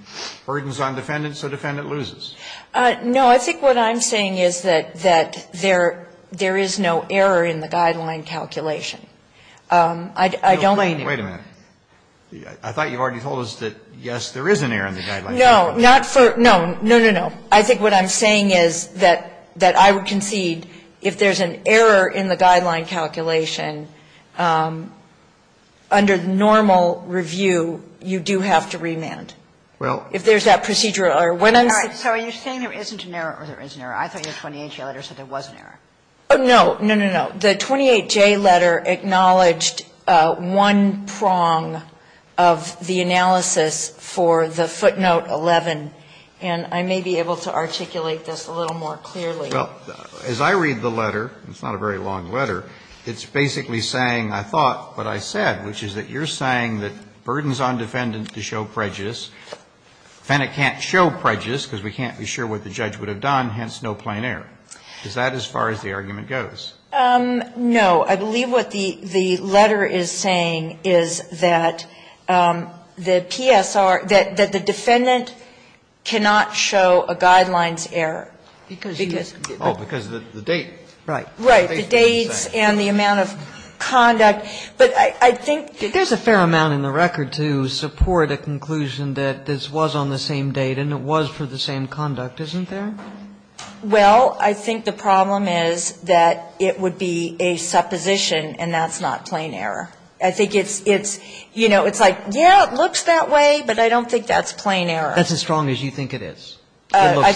burden's on defendant, so defendant loses. No, I think what I'm saying is that there is no error in the guideline calculation. Wait a minute. I thought you already told us that, yes, there is an error in the guideline calculation. No, not for – no, no, no, no. I think what I'm saying is that I would concede if there's an error in the guideline calculation, under normal review, you do have to remand. If there's that procedural error. So you're saying there isn't an error or there is an error. I thought your 28-J letter said there was an error. No, no, no, no. The 28-J letter acknowledged one prong of the analysis for the footnote 11. And I may be able to articulate this a little more clearly. Well, as I read the letter, it's not a very long letter, it's basically saying, I thought, but I said, which is that you're saying that burden's on defendant to show prejudice, defendant can't show prejudice because we can't be sure what the judge would have done, hence no plain error. Is that as far as the argument goes? No, I believe what the letter is saying is that the TSR – that the defendant cannot show a guidelines error. Oh, because of the date. Right, the date and the amount of conduct. But I think – There's a fair amount in the record to support a conclusion that this was on the same date and it was for the same conduct, isn't there? Well, I think the problem is that it would be a supposition and that's not plain error. I think it's, you know, it's like, yeah, it looks that way, but I don't think that's plain error. That's as strong as you think it is. I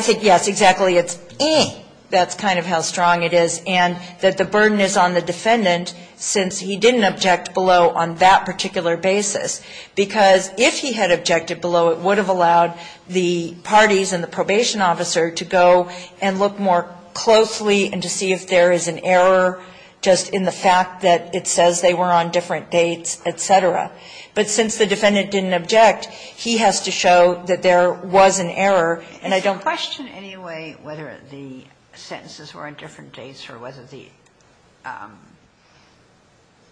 think, yes, exactly, that's kind of how strong it is. And that the burden is on the defendant since he didn't object below on that particular basis. Because if he had objected below, it would have allowed the parties and the probation officer to go and look more closely and to see if there is an error just in the fact that it says they were on different dates, et cetera. But since the defendant didn't object, he has to show that there was an error. And I don't – Did it question in any way whether the sentences were on different dates or whether the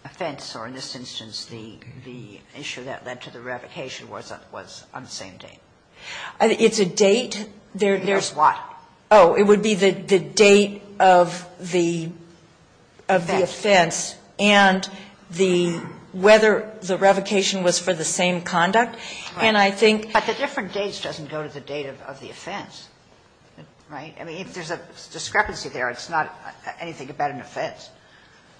offense or, in this instance, the issue that led to the revocation was on the same date? It's a date. There's what? Oh, it would be the date of the offense and whether the revocation was for the same conduct. And I think – But the different dates doesn't go to the date of the offense, right? I mean, if there's a discrepancy there, it's not anything about an offense.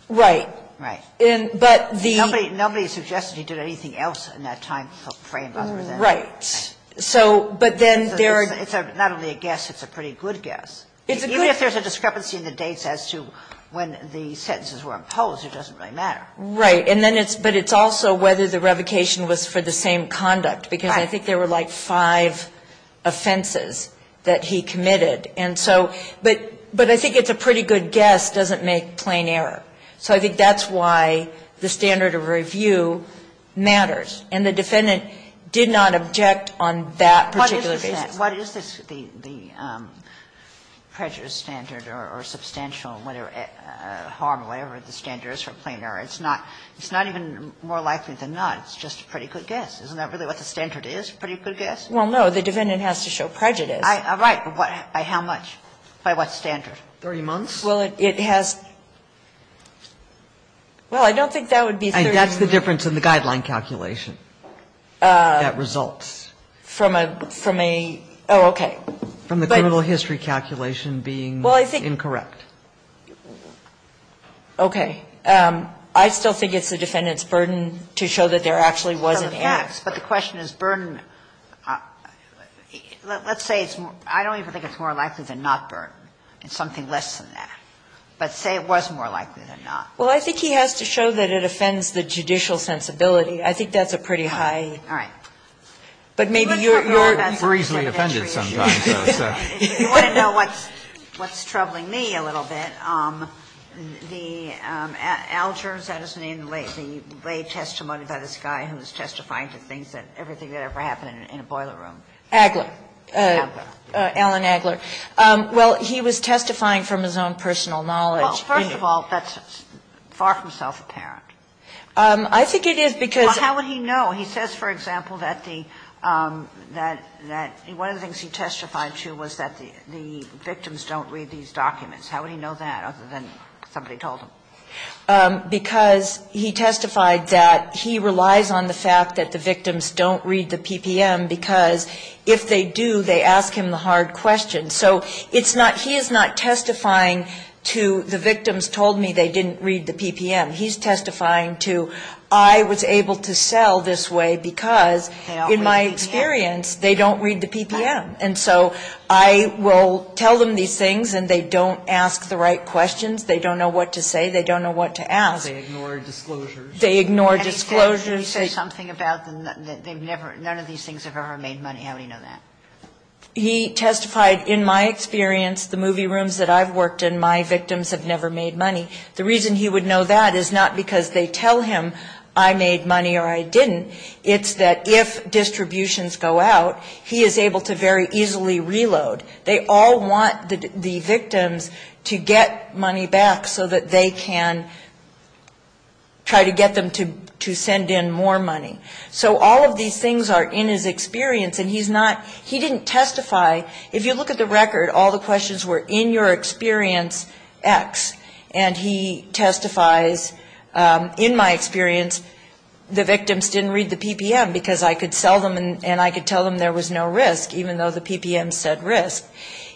Right. Right. But the – Nobody suggested he did anything else in that time frame other than – Right. So – But then there – It's not only a guess. It's a pretty good guess. Even if there's a discrepancy in the dates as to when the sentences were imposed, it doesn't really matter. Right. And then it's – but it's also whether the revocation was for the same conduct. Because I think there were, like, five offenses that he committed. And so – but I think it's a pretty good guess. It doesn't make plain error. So I think that's why the standard of review matters. And the defendant did not object on that particular case. What is this – the prejudice standard or substantial harm, whatever the standard is for plain error? It's not even more likely than not. It's just a pretty good guess. Isn't that really what the standard is? A pretty good guess? Well, no. The defendant has to show prejudice. Right. By how much? By what standard? 30 months? Well, it has – well, I don't think that would be – That's the difference in the guideline calculation that results. From a – oh, okay. From the criminal history calculation being incorrect. Well, I think – okay. I still think it's the defendant's burden to show that there actually was an annex. But the question is burden – let's say it's – I don't even think it's more likely than not burden. It's something less than that. But say it was more likely than not. Well, I think he has to show that it offends the judicial sensibility. I think that's a pretty high – All right. But maybe you're – We're easily offended sometimes by those questions. If you want to know what's troubling me a little bit, the – Al Gers, that is the name, laid testimony about this guy who was testifying to things that – everything that ever happened in a boiler room. Agler. Agler. Alan Agler. Well, he was testifying from his own personal knowledge. Well, first of all, that's far from self-apparent. I think it is because – Well, how would he know? He says, for example, that the – that one of the things he testified to was that the victims don't read these documents. How would he know that other than somebody told him? Because he testified that he relies on the fact that the victims don't read the PPM because if they do, they ask him the hard question. So it's not – he is not testifying to the victims told me they didn't read the PPM. He's testifying to I was able to sell this way because, in my experience, they don't read the PPM. And so I will tell them these things and they don't ask the right questions. They don't know what to say. They don't know what to ask. They ignore disclosures. They ignore disclosures. And he said something about they've never – none of these things have ever made money. How would he know that? He testified, in my experience, the movie rooms that I've worked in, my victims have never made money. The reason he would know that is not because they tell him I made money or I didn't. It's that if distributions go out, he is able to very easily reload. They all want the victims to get money back so that they can try to get them to send in more money. So all of these things are in his experience, and he's not – he didn't testify. If you look at the record, all the questions were in your experience, X. And he testifies, in my experience, the victims didn't read the PPM because I could sell them and I could tell them there was no risk, even though the PPM said risk.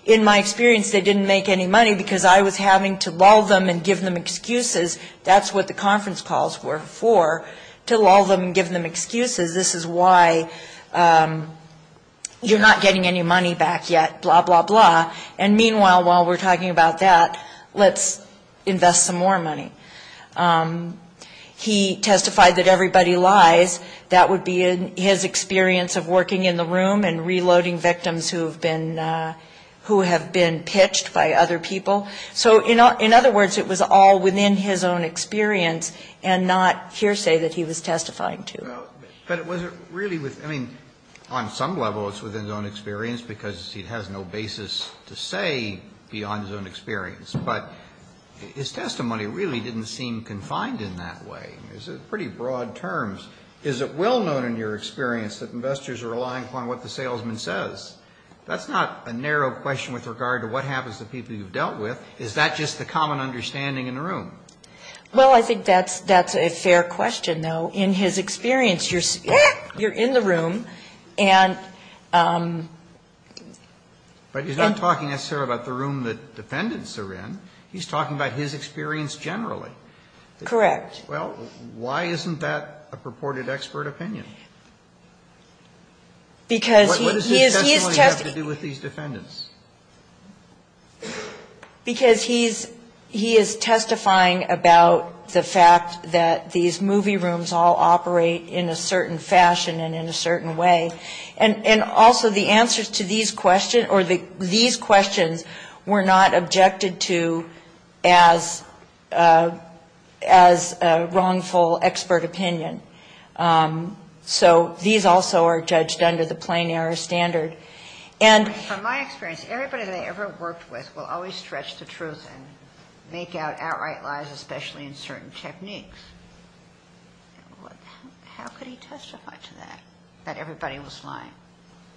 In my experience, they didn't make any money because I was having to lull them and give them excuses. Because that's what the conference calls were for, to lull them and give them excuses. This is why you're not getting any money back yet, blah, blah, blah. And meanwhile, while we're talking about that, let's invest some more money. He testified that everybody lies. That would be his experience of working in the room and reloading victims who have been pitched by other people. So in other words, it was all within his own experience and not hearsay that he was testifying to. But was it really – I mean, on some level, it's within his own experience because he has no basis to say beyond his own experience. But his testimony really didn't seem confined in that way. It was pretty broad terms. Is it well known in your experience that investors are relying upon what the salesman says? That's not a narrow question with regard to what happens to people you've dealt with. Is that just the common understanding in the room? Well, I think that's a fair question, though. In his experience, you're in the room and – But he's not talking necessarily about the room that defendants are in. He's talking about his experience generally. Correct. Well, why isn't that a purported expert opinion? What does his testimony have to do with these defendants? Because he is testifying about the fact that these movie rooms all operate in a certain fashion and in a certain way. And also, the answers to these questions were not objected to as wrongful expert opinion. So these also are judged under the plain error standard. And from my experience, everybody that I ever worked with will always stretch the truth and make out outright lies, especially in certain techniques. How could he testify to that, that everybody was lying?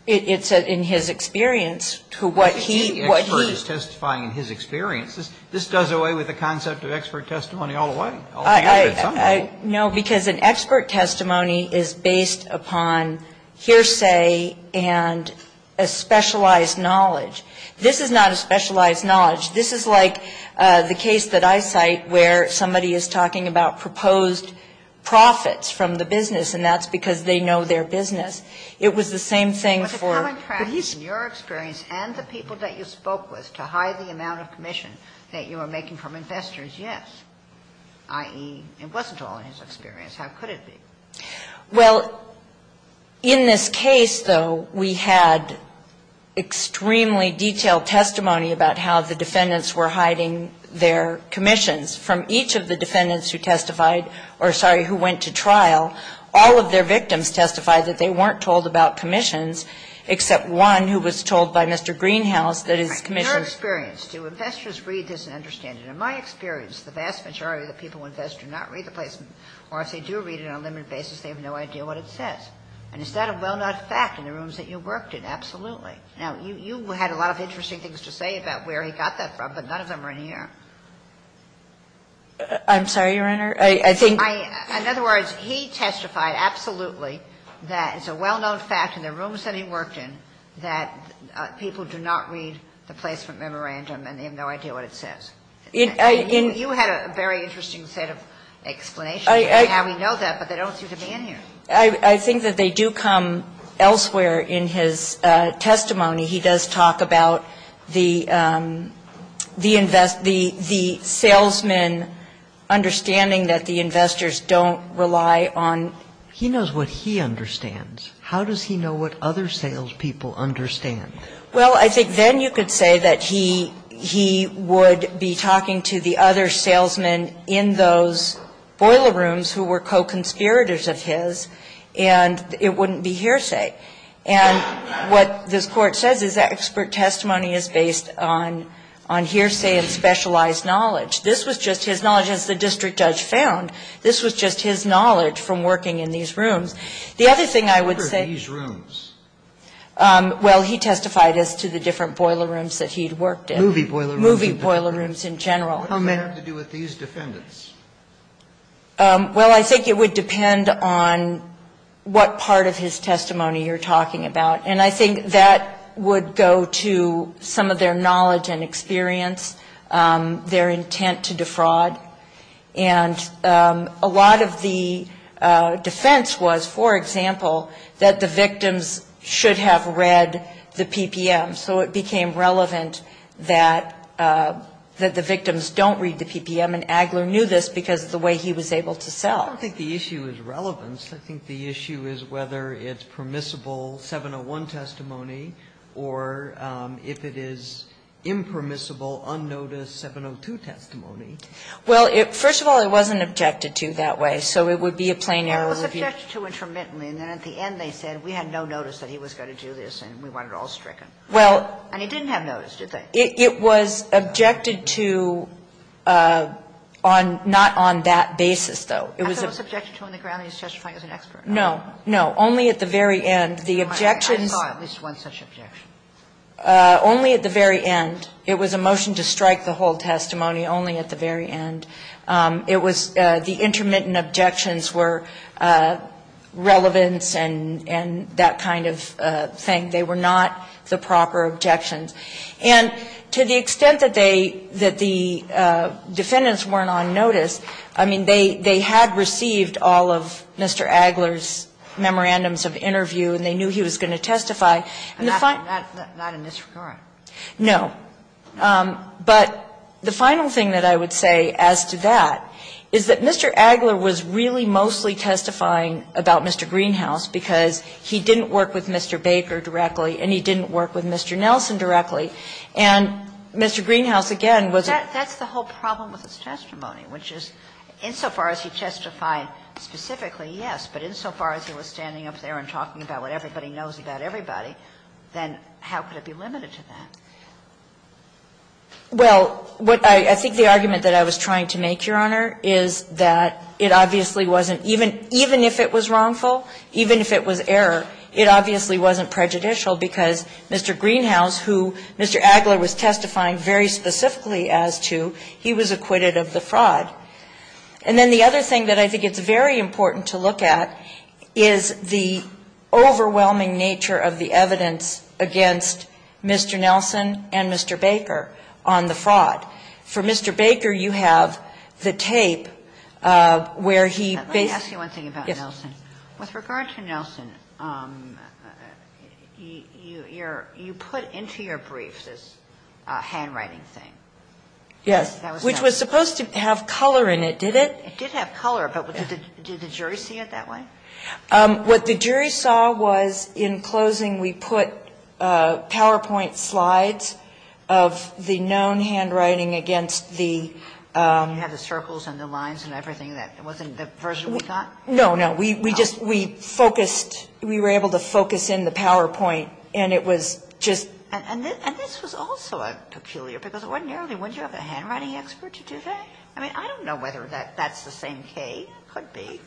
It's in his experience to what he – The expert is testifying in his experience. This does away with the concept of expert testimony all the time. No, because an expert testimony is based upon hearsay and a specialized knowledge. This is not a specialized knowledge. This is like the case that I cite where somebody is talking about proposed profits from the business and that's because they know their business. It was the same thing for – But the common practice in your experience and the people that you spoke with that you were making from investors, yes, i.e., it wasn't all in his experience. How could it be? Well, in this case, though, we had extremely detailed testimony about how the defendants were hiding their commissions. From each of the defendants who testified or, sorry, who went to trial, all of their victims testified that they weren't told about commissions, except one who was told by Mr. Greenhouse that his commission – In your experience, do investors read this and understand it? In my experience, the vast majority of the people invest do not read the placement or if they do read it on a limited basis, they have no idea what it says. And is that a well-known fact in the rooms that you worked in? Absolutely. Now, you had a lot of interesting things to say about where he got that from, but none of them are in here. I'm sorry, Your Honor, I think – In other words, he testified absolutely that it's a well-known fact in the rooms that he worked in that people do not read the placement memorandum and they have no idea what it says. You had a very interesting set of explanations for how he knows that, but they don't seem to be in here. I think that they do come elsewhere in his testimony. He does talk about the salesman understanding that the investors don't rely on – He knows what he understands. How does he know what other salespeople understand? Well, I think then you could say that he would be talking to the other salesmen in those boiler rooms who were co-conspirators of his, and it wouldn't be hearsay. And what the court said is that expert testimony is based on hearsay and specialized knowledge. This was just his knowledge, as the district judge found. This was just his knowledge from working in these rooms. The other thing I would say – What are these rooms? Well, he testified as to the different boiler rooms that he'd worked in. Movie boiler rooms. Movie boiler rooms in general. What are meant to do with these defendants? Well, I think it would depend on what part of his testimony you're talking about, and I think that would go to some of their knowledge and experience, their intent to defraud. And a lot of the defense was, for example, that the victims should have read the PPM, so it became relevant that the victims don't read the PPM, and Agler knew this because of the way he was able to sell. I don't think the issue is relevance. I think the issue is whether it's permissible 701 testimony, or if it is impermissible, unnoticed 702 testimony. Well, first of all, it wasn't objected to that way, so it would be a plain error. It was objected to intermittently, and then at the end they said, we had no notice that he was going to do this, and we wanted it all stricken. And he didn't have notice, did they? It was objected to not on that basis, though. I thought it was objected to on the ground that he was testifying as an expert. No, no, only at the very end. I thought it was one such objection. Only at the very end. It was a motion to strike the whole testimony only at the very end. It was the intermittent objections were relevance and that kind of thing. They were not the proper objections. And to the extent that the defendants weren't on notice, I mean, they had received all of Mr. Agler's memorandums of interview, and they knew he was going to testify. Not in this regard. No. But the final thing that I would say as to that is that Mr. Agler was really mostly testifying about Mr. Greenhouse because he didn't work with Mr. Baker directly, and he didn't work with Mr. Nelson directly, and Mr. Greenhouse, again, was the whole problem with his testimony, which is insofar as he testified specifically, yes, but insofar as he was standing up there and talking about what everybody knows about everybody, then how could it be limited to that? Well, I think the argument that I was trying to make, Your Honor, is that it obviously wasn't, even if it was wrongful, even if it was error, it obviously wasn't prejudicial because Mr. Greenhouse, who Mr. Agler was testifying very specifically as to, he was acquitted of the fraud. And then the other thing that I think is very important to look at is the Mr. Nelson and Mr. Baker on the fraud. For Mr. Baker, you have the tape where he – Let me ask you one thing about Nelson. With regard to Nelson, you put into your briefs this handwriting thing. Yes, which was supposed to have color in it, did it? It did have color, but did the jury see it that way? What the jury saw was in closing we put PowerPoint slides of the known handwriting against the – You had the circles and the lines and everything that wasn't the version we got? No, no. We just – we focused – we were able to focus in the PowerPoint, and it was just – And this was also peculiar because ordinarily wouldn't you have a handwriting expert to do that? I mean, I don't know whether that's the same case. Could be.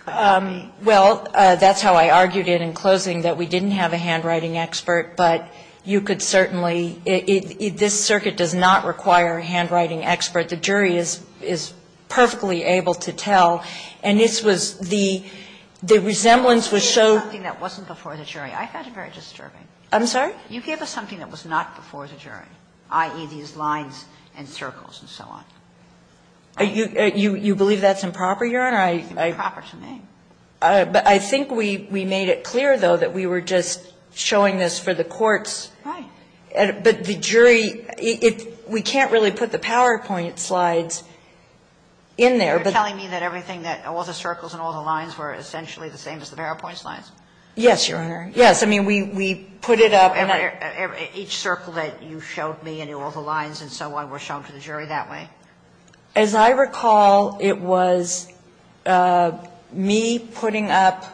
Well, that's how I argued it in closing that we didn't have a handwriting expert, but you could certainly – this circuit does not require a handwriting expert. The jury is perfectly able to tell, and this was – the resemblance was so – You gave us something that wasn't before the jury. I found it very disturbing. I'm sorry? You gave us something that was not before the jury, i.e. these lines and circles and so on. You believe that's improper, Your Honor? Improper to me. But I think we made it clear, though, that we were just showing this for the courts, but the jury – we can't really put the PowerPoint slides in there. You're telling me that everything that – all the circles and all the lines were essentially the same as the PowerPoint slides? Yes, Your Honor. Yes, I mean, we put it up – Each circle that you showed me and all the lines and so on were shown to the jury that way? As I recall, it was me putting up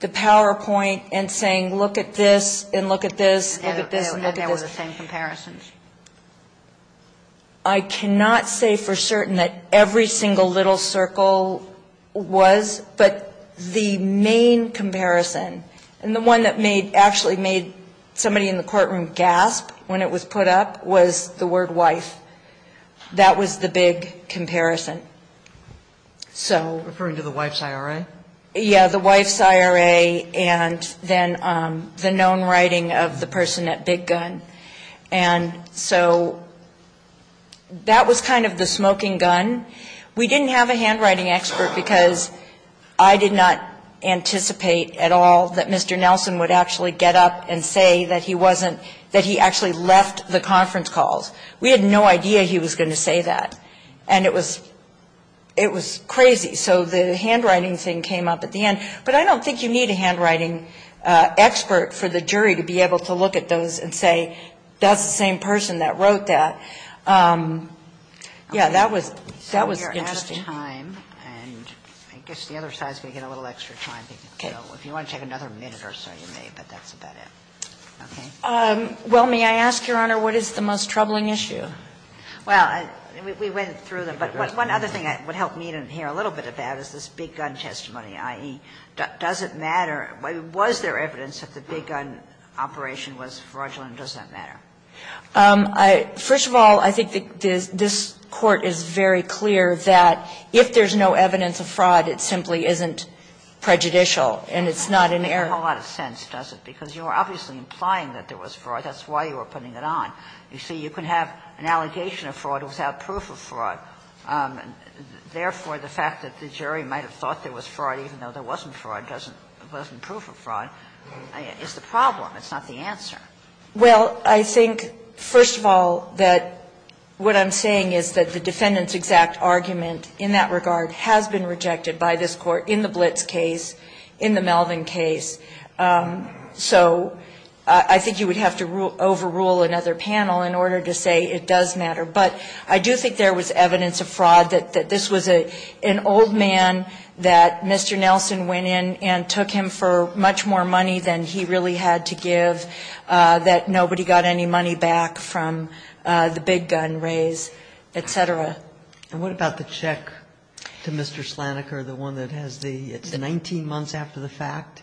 the PowerPoint and saying, look at this and look at this and look at this. And they were the same comparisons? I cannot say for certain that every single little circle was, but the main comparison, and the one that made – actually made somebody in the courtroom gasp when it was put up was the word wife. That was the big comparison. Referring to the wife's IRA? Yes, the wife's IRA and then the known writing of the person at Big Gun. And so that was kind of the smoking gun. We didn't have a handwriting expert because I did not anticipate at all that Mr. Nelson would actually get up and say that he wasn't – I had no idea he was going to say that. And it was crazy. So the handwriting thing came up at the end. But I don't think you need a handwriting expert for the jury to be able to look at those and say, that's the same person that wrote that. Yeah, that was interesting. We're out of time, and I guess the other side is going to get a little extra time. If you want to take another minute or so, you may, but that's about it. Well, may I ask, Your Honor, what is the most troubling issue? Well, we went through them. But one other thing that would help me to hear a little bit of that is this Big Gun testimony, i.e., does it matter? Was there evidence that the Big Gun operation was fraudulent? Does that matter? First of all, I think this Court is very clear that if there's no evidence of fraud, it simply isn't prejudicial, and it's not an error. It doesn't make a whole lot of sense, does it? Because you're obviously implying that there was fraud. That's why you were putting it on. You see, you can have an allegation of fraud without proof of fraud. Therefore, the fact that the jury might have thought there was fraud, even though there wasn't fraud, wasn't proof of fraud, is the problem. It's not the answer. Well, I think, first of all, that what I'm saying is that the defendant's exact argument in that regard has been rejected by this Court in the Blitz case, in the Melvin case. So I think you would have to overrule another panel in order to say it does matter. But I do think there was evidence of fraud, that this was an old man that Mr. Nelson went in and took him for much more money than he really had to give, that nobody got any money back from the Big Gun raids, et cetera. And what about the check to Mr. Slaniker, the one that has the 19 months after the fact?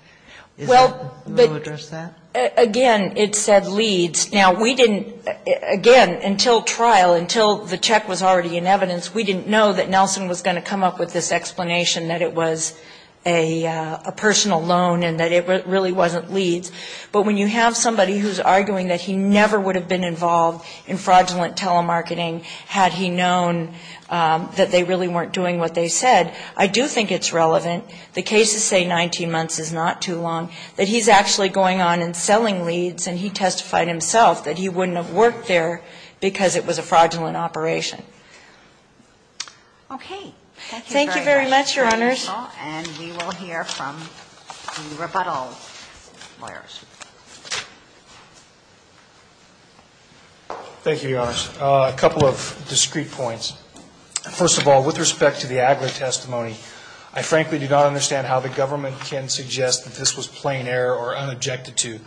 Will you address that? Again, it said leads. Now, we didn't, again, until trial, until the check was already in evidence, we didn't know that Nelson was going to come up with this explanation that it was a personal loan and that it really wasn't leads. But when you have somebody who's arguing that he never would have been involved in fraudulent telemarketing had he known that they really weren't doing what they said, I do think it's relevant. The cases say 19 months is not too long, that he's actually going on and selling leads and he testified himself that he wouldn't have worked there because it was a fraudulent operation. Thank you very much. Thank you very much, Your Honors. And we will hear from the rebuttal lawyers. Thank you, Your Honors. A couple of discrete points. First of all, with respect to the Agler testimony, I frankly do not understand how the government can suggest that this was plain error or unobjected to.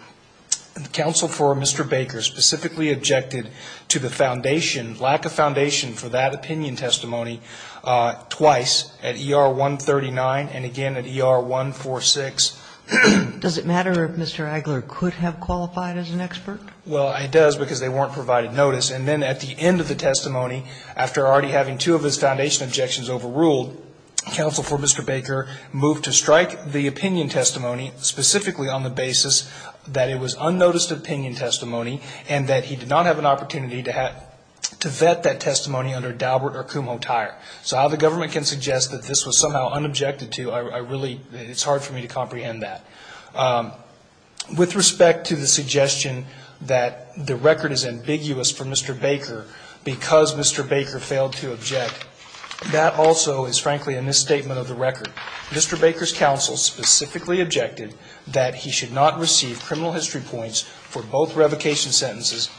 Counsel for Mr. Baker specifically objected to the foundation, lack of foundation for that opinion testimony twice at ER 139 and again at ER 146. Does it matter if Mr. Agler could have qualified as an expert? Well, it does because they weren't provided notice. And then at the end of the testimony, after already having two of his foundation objections overruled, Counsel for Mr. Baker moved to strike the opinion testimony specifically on the basis that it was unnoticed opinion testimony and that he did not have an opportunity to vet that testimony under Daubert or Kumho Tire. So how the government can suggest that this was somehow unobjected to, it's hard for me to comprehend that. With respect to the suggestion that the record is ambiguous for Mr. Baker because Mr. Baker failed to object, that also is frankly in this statement of the record. Mr. Baker's counsel specifically objected that he should not receive criminal history points for both revocation sentences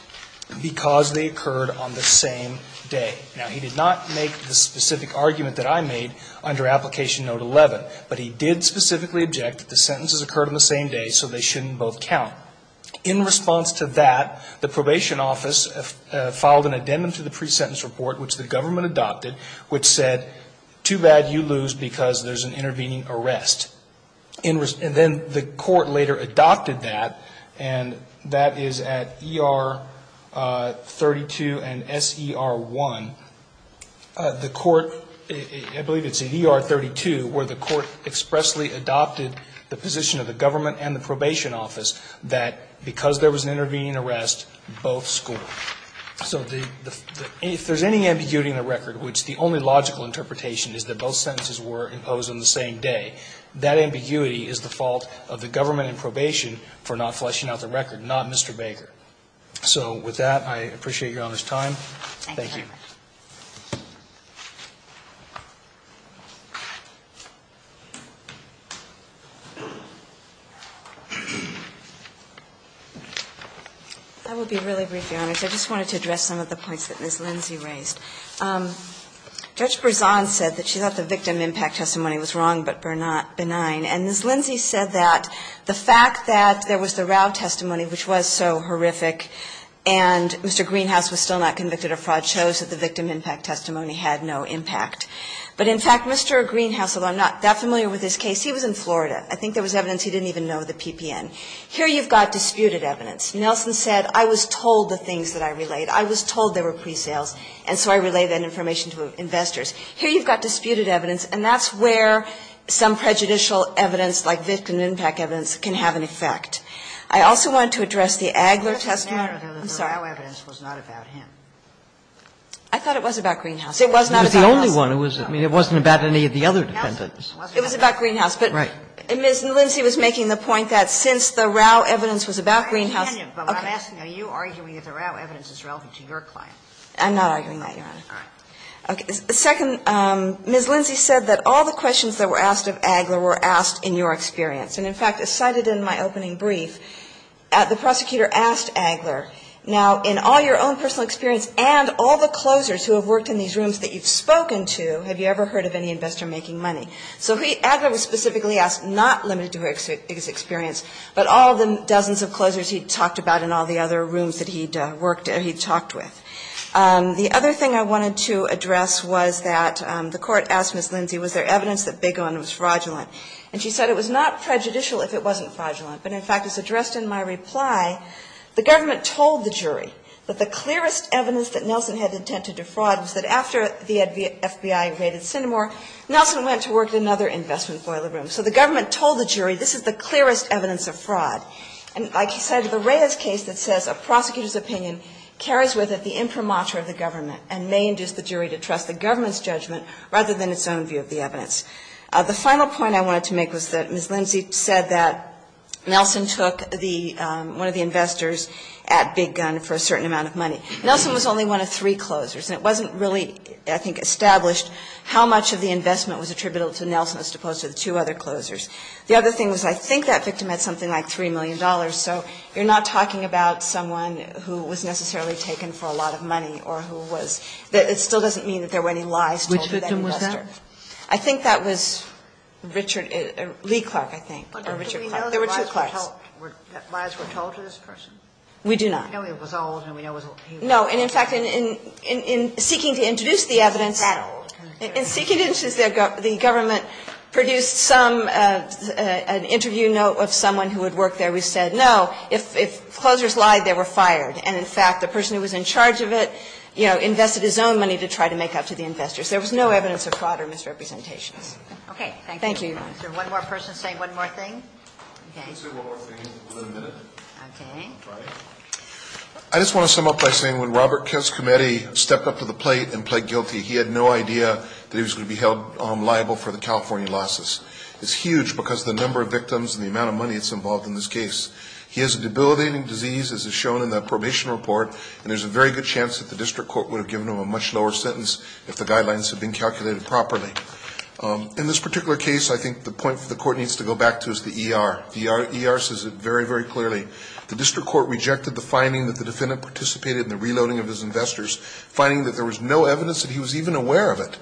because they occurred on the same day. Now, he did not make the specific argument that I made under Application Note 11, but he did specifically object that the sentences occurred on the same day so they shouldn't both count. In response to that, the probation office filed an addendum to the pre-sentence report, which the government adopted, which said, too bad you lose because there's an intervening arrest. And then the court later adopted that, and that is at ER 32 and SER 1. The court, I believe it's at ER 32, where the court expressly adopted the position of the government and the probation office that because there was an intervening arrest, both scored. So if there's any ambiguity in the record, which the only logical interpretation is that both sentences were imposed on the same day, that ambiguity is the fault of the government in probation for not fleshing out the record, not Mr. Baker. So with that, I appreciate your time. Thank you. I will be really brief, Your Honor. I just wanted to address some of the points that Ms. Lindsey raised. Judge Berzon said that she thought the victim impact testimony was wrong but benign, and Ms. Lindsey said that the fact that there was the Rao testimony, which was so horrific, and Mr. Greenhouse was still not convicted of fraud shows that the victim impact testimony had no impact. But in fact, Mr. Greenhouse, although I'm not that familiar with his case, he was in Florida. I think there was evidence he didn't even know the PPN. Here you've got disputed evidence. Nelson said, I was told the things that I relayed. I was told they were pre-sales, and so I relayed that information to investors. Here you've got disputed evidence, and that's where some prejudicial evidence like victim impact evidence can have an effect. I also wanted to address the Agler testimony. I thought it was about Greenhouse. It wasn't about any of the other defendants. It was about Greenhouse, but Ms. Lindsey was making the point that since the Rao evidence was about Greenhouse. I'm not arguing that, Your Honor. The second, Ms. Lindsey said that all the questions that were asked of Agler were asked in your experience, and in fact, as cited in my opening brief, the prosecutor asked Agler, now in all your own personal experience and all the closers who have worked in these rooms that you've spoken to, have you ever heard of any investor making money? So Agler was specifically asked not limited to his experience, but all the dozens of closers he'd talked about in all the other rooms that he'd talked with. The other thing I wanted to address was that the court asked Ms. Lindsey, was there evidence that Bigelon was fraudulent? And she said it was not prejudicial if it wasn't fraudulent, but in fact, as addressed in my reply, the government told the jury that the clearest evidence that Nelson had intended to defraud was that after the FBI raided Sydenham, Nelson went to work in another investment boiler room. So the government told the jury, this is the clearest evidence of fraud. And as I said, the rarest case that says a prosecutor's opinion carries with it the infirmature of the government and may induce the jury to trust the government's judgment rather than its own view of the evidence. The final point I wanted to make was that Ms. Lindsey said that Nelson took one of the investors at Big Gun for a certain amount of money. Nelson was only one of three closers, and it wasn't really, I think, established how much of the investment was attributable to Nelson as opposed to the two other closers. The other thing was I think that victim had something like $3 million. So you're not talking about someone who was necessarily taken for a lot of money or who was – it still doesn't mean that there were any lies told to them. Which victim was that? I think that was Richard – Lee Clark, I think, or Richard Clark. Do we know that lies were told to this person? We do not. We know he was old, and we know he was – No, and in fact, in seeking to introduce the evidence – He was that old. In seeking to introduce the evidence, the government produced some – an interview note of someone who had worked there. We said, no, if closers lied, they were fired. And in fact, the person who was in charge of it, you know, invested his own money to try to make up to the investors. There was no evidence of fraud or misrepresentation. Okay, thank you. Thank you. Is there one more person saying one more thing? You can say one more thing, and we'll admit it. Okay. I just want to sum up by saying when Robert Kiss' committee stepped up to the plate and pled guilty, he had no idea that he was going to be held liable for the California losses. It's huge because of the number of victims and the amount of money that's involved in this case. He has a debilitating disease, as is shown in the probation report, and there's a very good chance that the district court would have given him a much lower sentence if the guidelines had been calculated properly. In this particular case, I think the point that the court needs to go back to is the ER. The ER says it very, very clearly. The district court rejected the finding that the defendant participated in the reloading of his investors, finding that there was no evidence that he was even aware of it,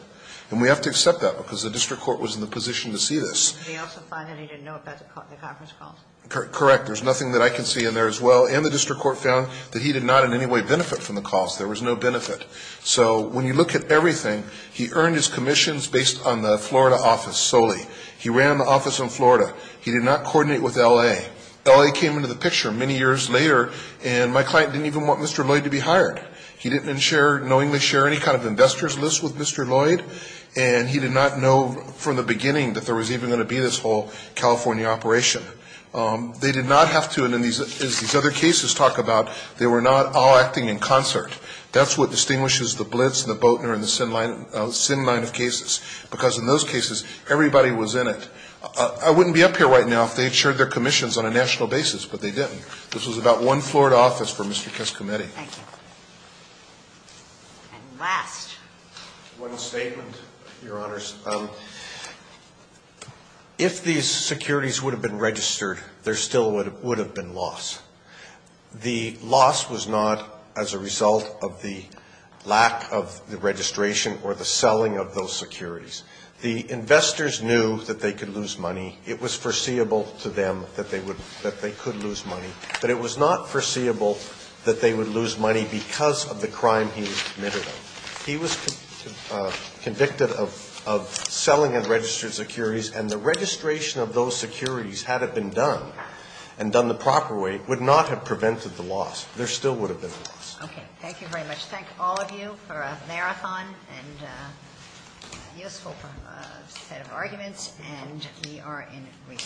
and we have to accept that because the district court was in the position to see this. And they also find that he didn't know about the Congress calls. Correct. There's nothing that I can see in there as well, and the district court found that he did not in any way benefit from the calls. There was no benefit. So when you look at everything, he earned his commissions based on the Florida office solely. He ran the office in Florida. He did not coordinate with L.A. L.A. came into the picture many years later, and my client didn't even want Mr. Lloyd to be hired. He didn't share, knowingly share, any kind of investors list with Mr. Lloyd, and he did not know from the beginning that there was even going to be this whole California operation. They did not have to, as these other cases talk about, they were not all acting in concert. That's what distinguishes the Blitz and the Boatner and the Sin Line of cases, because in those cases, everybody was in it. I wouldn't be up here right now if they had shared their commissions on a national basis, but they didn't. This was about one Florida office for Mr. Trescometti. And last. One statement, Your Honors. If these securities would have been registered, there still would have been loss. The loss was not as a result of the lack of the registration or the selling of those securities. The investors knew that they could lose money. It was foreseeable to them that they could lose money, but it was not foreseeable that they would lose money because of the crime he had committed. He was convicted of selling unregistered securities, and the registration of those securities, had it been done, and done the proper way, would not have prevented the loss. There still would have been loss. Okay. Thank you very much. Thank all of you for a marathon and useful set of arguments, and we are in it.